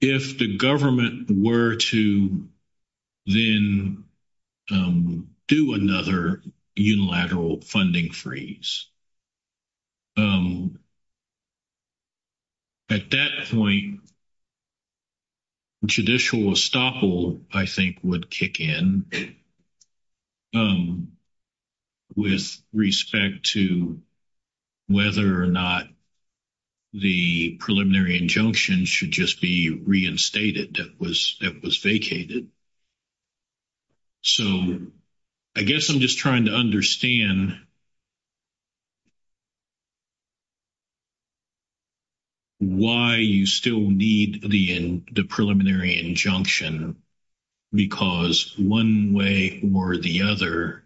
If the government were to then do another unilateral funding freeze, at that point, the judicial estoppel, I think, would kick in with respect to whether or not the preliminary injunction should just be reinstated, that was the question. Why you still need the preliminary injunction, because one way or the other,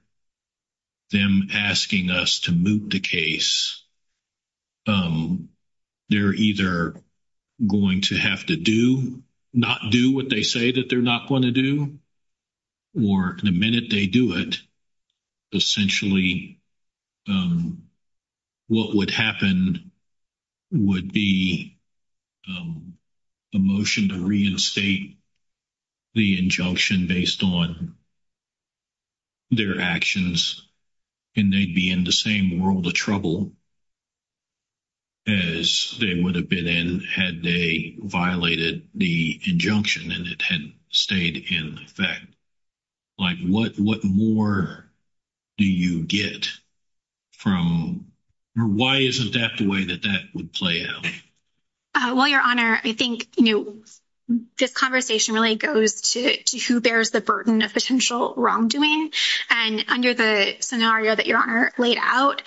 them asking us to moot the case, they're either going to have to do, not do what they say that they're not going to do, or the minute they do it, essentially, what would happen would be a motion to reinstate the injunction based on their actions, and they'd be in the same world of trouble as they would have been in had they violated the injunction and it had stayed in effect. What more do you get from... Why isn't that the way that that would play out? Well, Your Honor, I think this conversation really goes to who bears the burden of potential wrongdoing, and under the scenario that Your Honor laid out,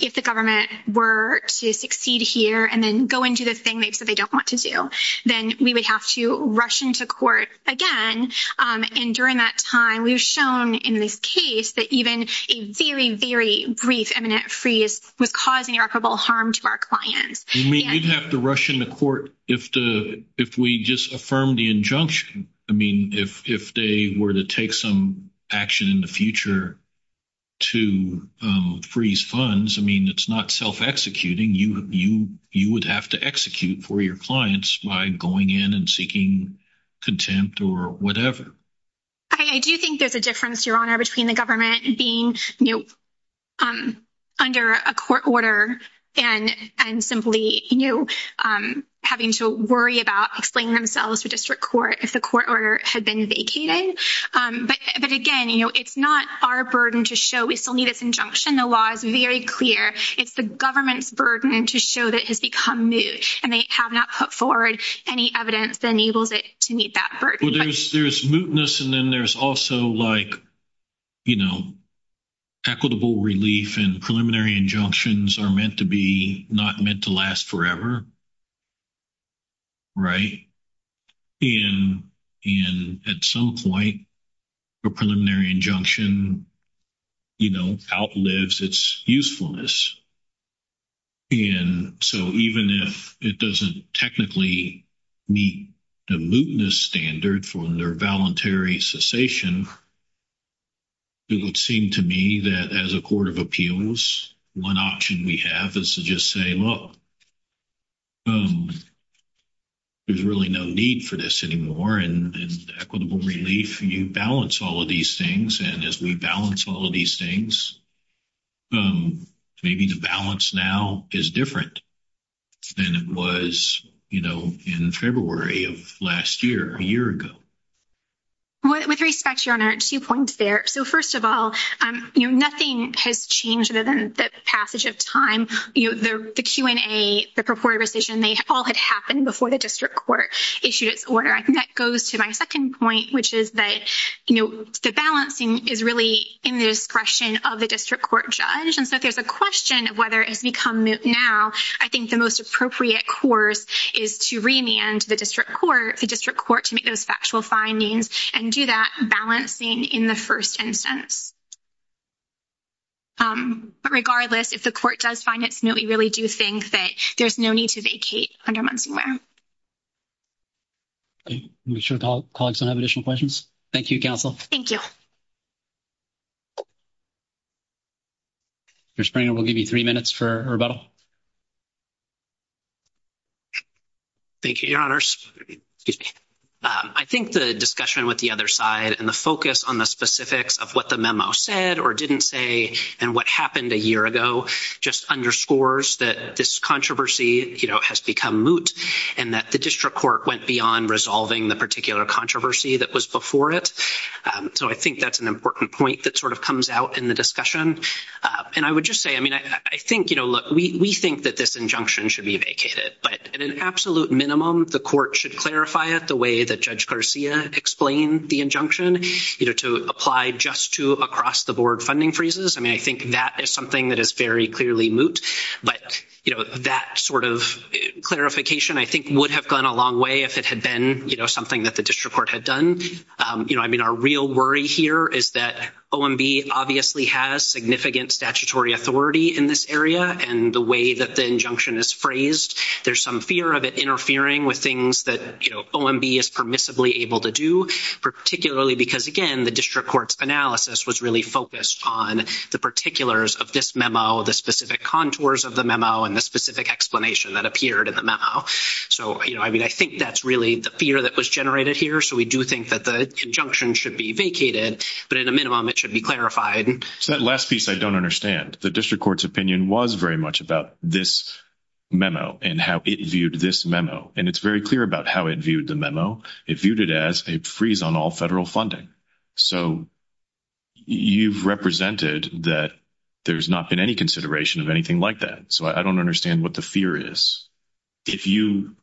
if the government were to succeed here and then go and do the thing they said they don't want to do, then we would have to rush into court again, and during that time, we've shown in this case that even a very, very brief eminent freeze would cause irreparable harm to our clients. You mean we'd have to rush into court if we just affirm the injunction? I mean, if they were to take some action in the future to freeze funds, I mean, it's not self-executing. You would have to execute for your clients by going in and seeking contempt or whatever. I do think there's a difference, Your Honor, between the government being under a court order and simply having to worry about explaining themselves to district court if the court order had been vacated. But again, it's not our burden to show we still need this injunction. The law is very clear. It's the government's burden to show that it has become moot, and they have not put forward any evidence that enables it to meet that burden. Well, there's mootness, and then there's also, like, you know, equitable relief, and preliminary injunctions are meant to be not meant to last forever, right? And at some point, a preliminary injunction, you know, outlives its usefulness. And so even if it doesn't technically meet the mootness standard for their voluntary cessation, it would seem to me that as a court of appeals, one option we have is to just say, look, there's really no need for this anymore, and equitable relief, you balance all of these things, and as we balance all of these things, maybe the balance now is different than it was, you know, in February of last year, a year ago. With respect, your honor, two points there. So, first of all, you know, nothing has changed other than the passage of time. You know, the Q&A, the purported rescission, they all had happened before the district court issued its order. That goes to my second point, which is that, you know, the balancing is really in the discretion of the district court judge, and so if there's a question of whether it's become moot now, I think the most appropriate course is to remand the district court to make those factual findings and do that balancing in the first instance. But regardless, if the court does find it moot, we really do think that there's no need to vacate 100 months from now. I'm sure all the colleagues don't have additional questions. Thank you, counsel. Thank you. Mr. Springer will give you three minutes for rebuttal. Thank you, your honors. I think the discussion with the other side and the focus on the specifics of what the memo said or didn't say and what happened a year ago just underscores that this controversy, you know, has become moot and that the district court went beyond resolving the particular controversy that was before it. So, I think that's an important point that sort of comes out in the discussion. And I would just say, I mean, I think, you know, we think that this injunction should be vacated, but at an absolute minimum, the court should clarify it the way that Judge Garcia explained the injunction, you know, to apply just to across-the-board funding freezes. I mean, I think that is something that is very clearly moot. But, you know, that sort of clarification, I think, would have gone a long way if it had been, you know, something that the district court had done. You know, I mean, our real worry here is that OMB obviously has significant statutory authority in this area and the way that the injunction is phrased, there's some fear of it interfering with things that, you know, OMB is permissibly able to do, particularly because, again, the district court's analysis was really focused on the particulars of this memo, the specific contours of the memo, and the specific explanation that appeared in the memo. So, you know, I mean, I think that's really the fear that was generated here. So, we do think that the injunction should be vacated, but at a minimum, it should be clarified. So, that last piece, I don't understand. The district court's opinion was very much about this memo and how it viewed this memo. And it's very clear about how it viewed the memo. It viewed it as a freeze on all federal funding. So, you've represented that there's not been any consideration of anything like that. So, I don't understand what the fear is. If you...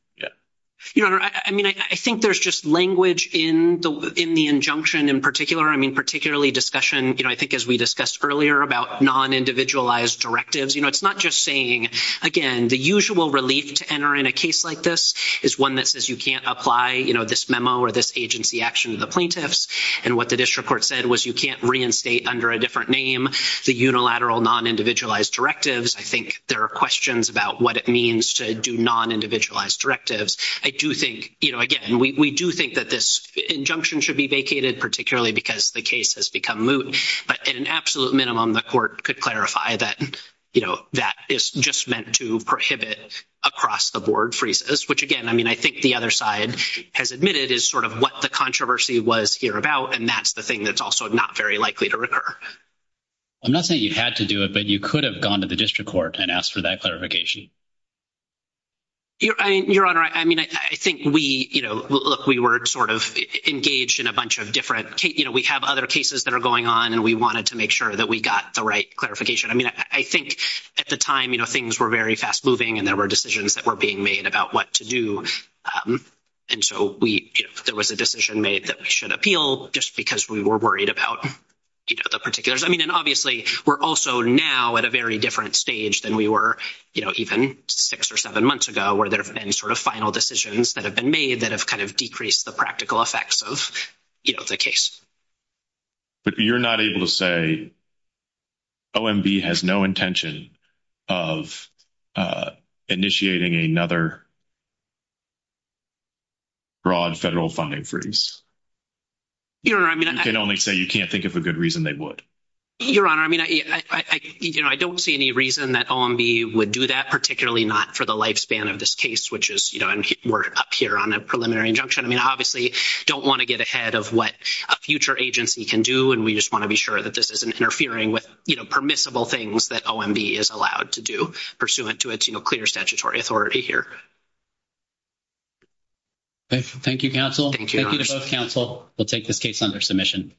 Your Honor, I mean, I think there's just language in the injunction in particular. I mean, we discussed earlier about non-individualized directives. You know, it's not just saying, again, the usual relief to enter in a case like this is one that says you can't apply, you know, this memo or this agency action to the plaintiffs. And what the district court said was you can't reinstate under a different name the unilateral non-individualized directives. I think there are questions about what it means to do non-individualized directives. I do think, you know, again, we do think that this injunction should be vacated, particularly because the case has become moot. But at an absolute minimum, the court could clarify that, you know, that is just meant to prohibit across-the-board freezes, which, again, I mean, I think the other side has admitted is sort of what the controversy was here about, and that's the thing that's also not very likely to recur. I'm not saying you had to do it, but you could have gone to the district court and asked for that clarification. Your Honor, I mean, I think we, you know, look, we were sort of engaged in a bunch of different, you know, we have other cases that are going on, and we wanted to make sure that we got the right clarification. I mean, I think at the time, you know, things were very fast moving, and there were decisions that were being made about what to do. And so we, there was a decision made that we should appeal just because we were worried about, you know, the particulars. I mean, and obviously we're also now at a very different stage than we were, you know, even six or seven months ago where there have been sort of final decisions that have been made that have kind of decreased the practical effects of, you know, the case. But you're not able to say OMB has no intention of initiating another broad federal funding freeze? Your Honor, I mean— You can only say you can't think of a good reason they would. Your Honor, I mean, you know, I don't see any reason that OMB would do that, particularly not for the lifespan of this case, which is, you know, we're up here on a preliminary injunction. I mean, I obviously don't want to get ahead of what a future agency can do, and we just want to be sure that this isn't interfering with, you know, permissible things that OMB is allowed to do pursuant to its, you know, clear statutory authority here. Thank you, counsel. Thank you to both counsel. We'll take this case under submission.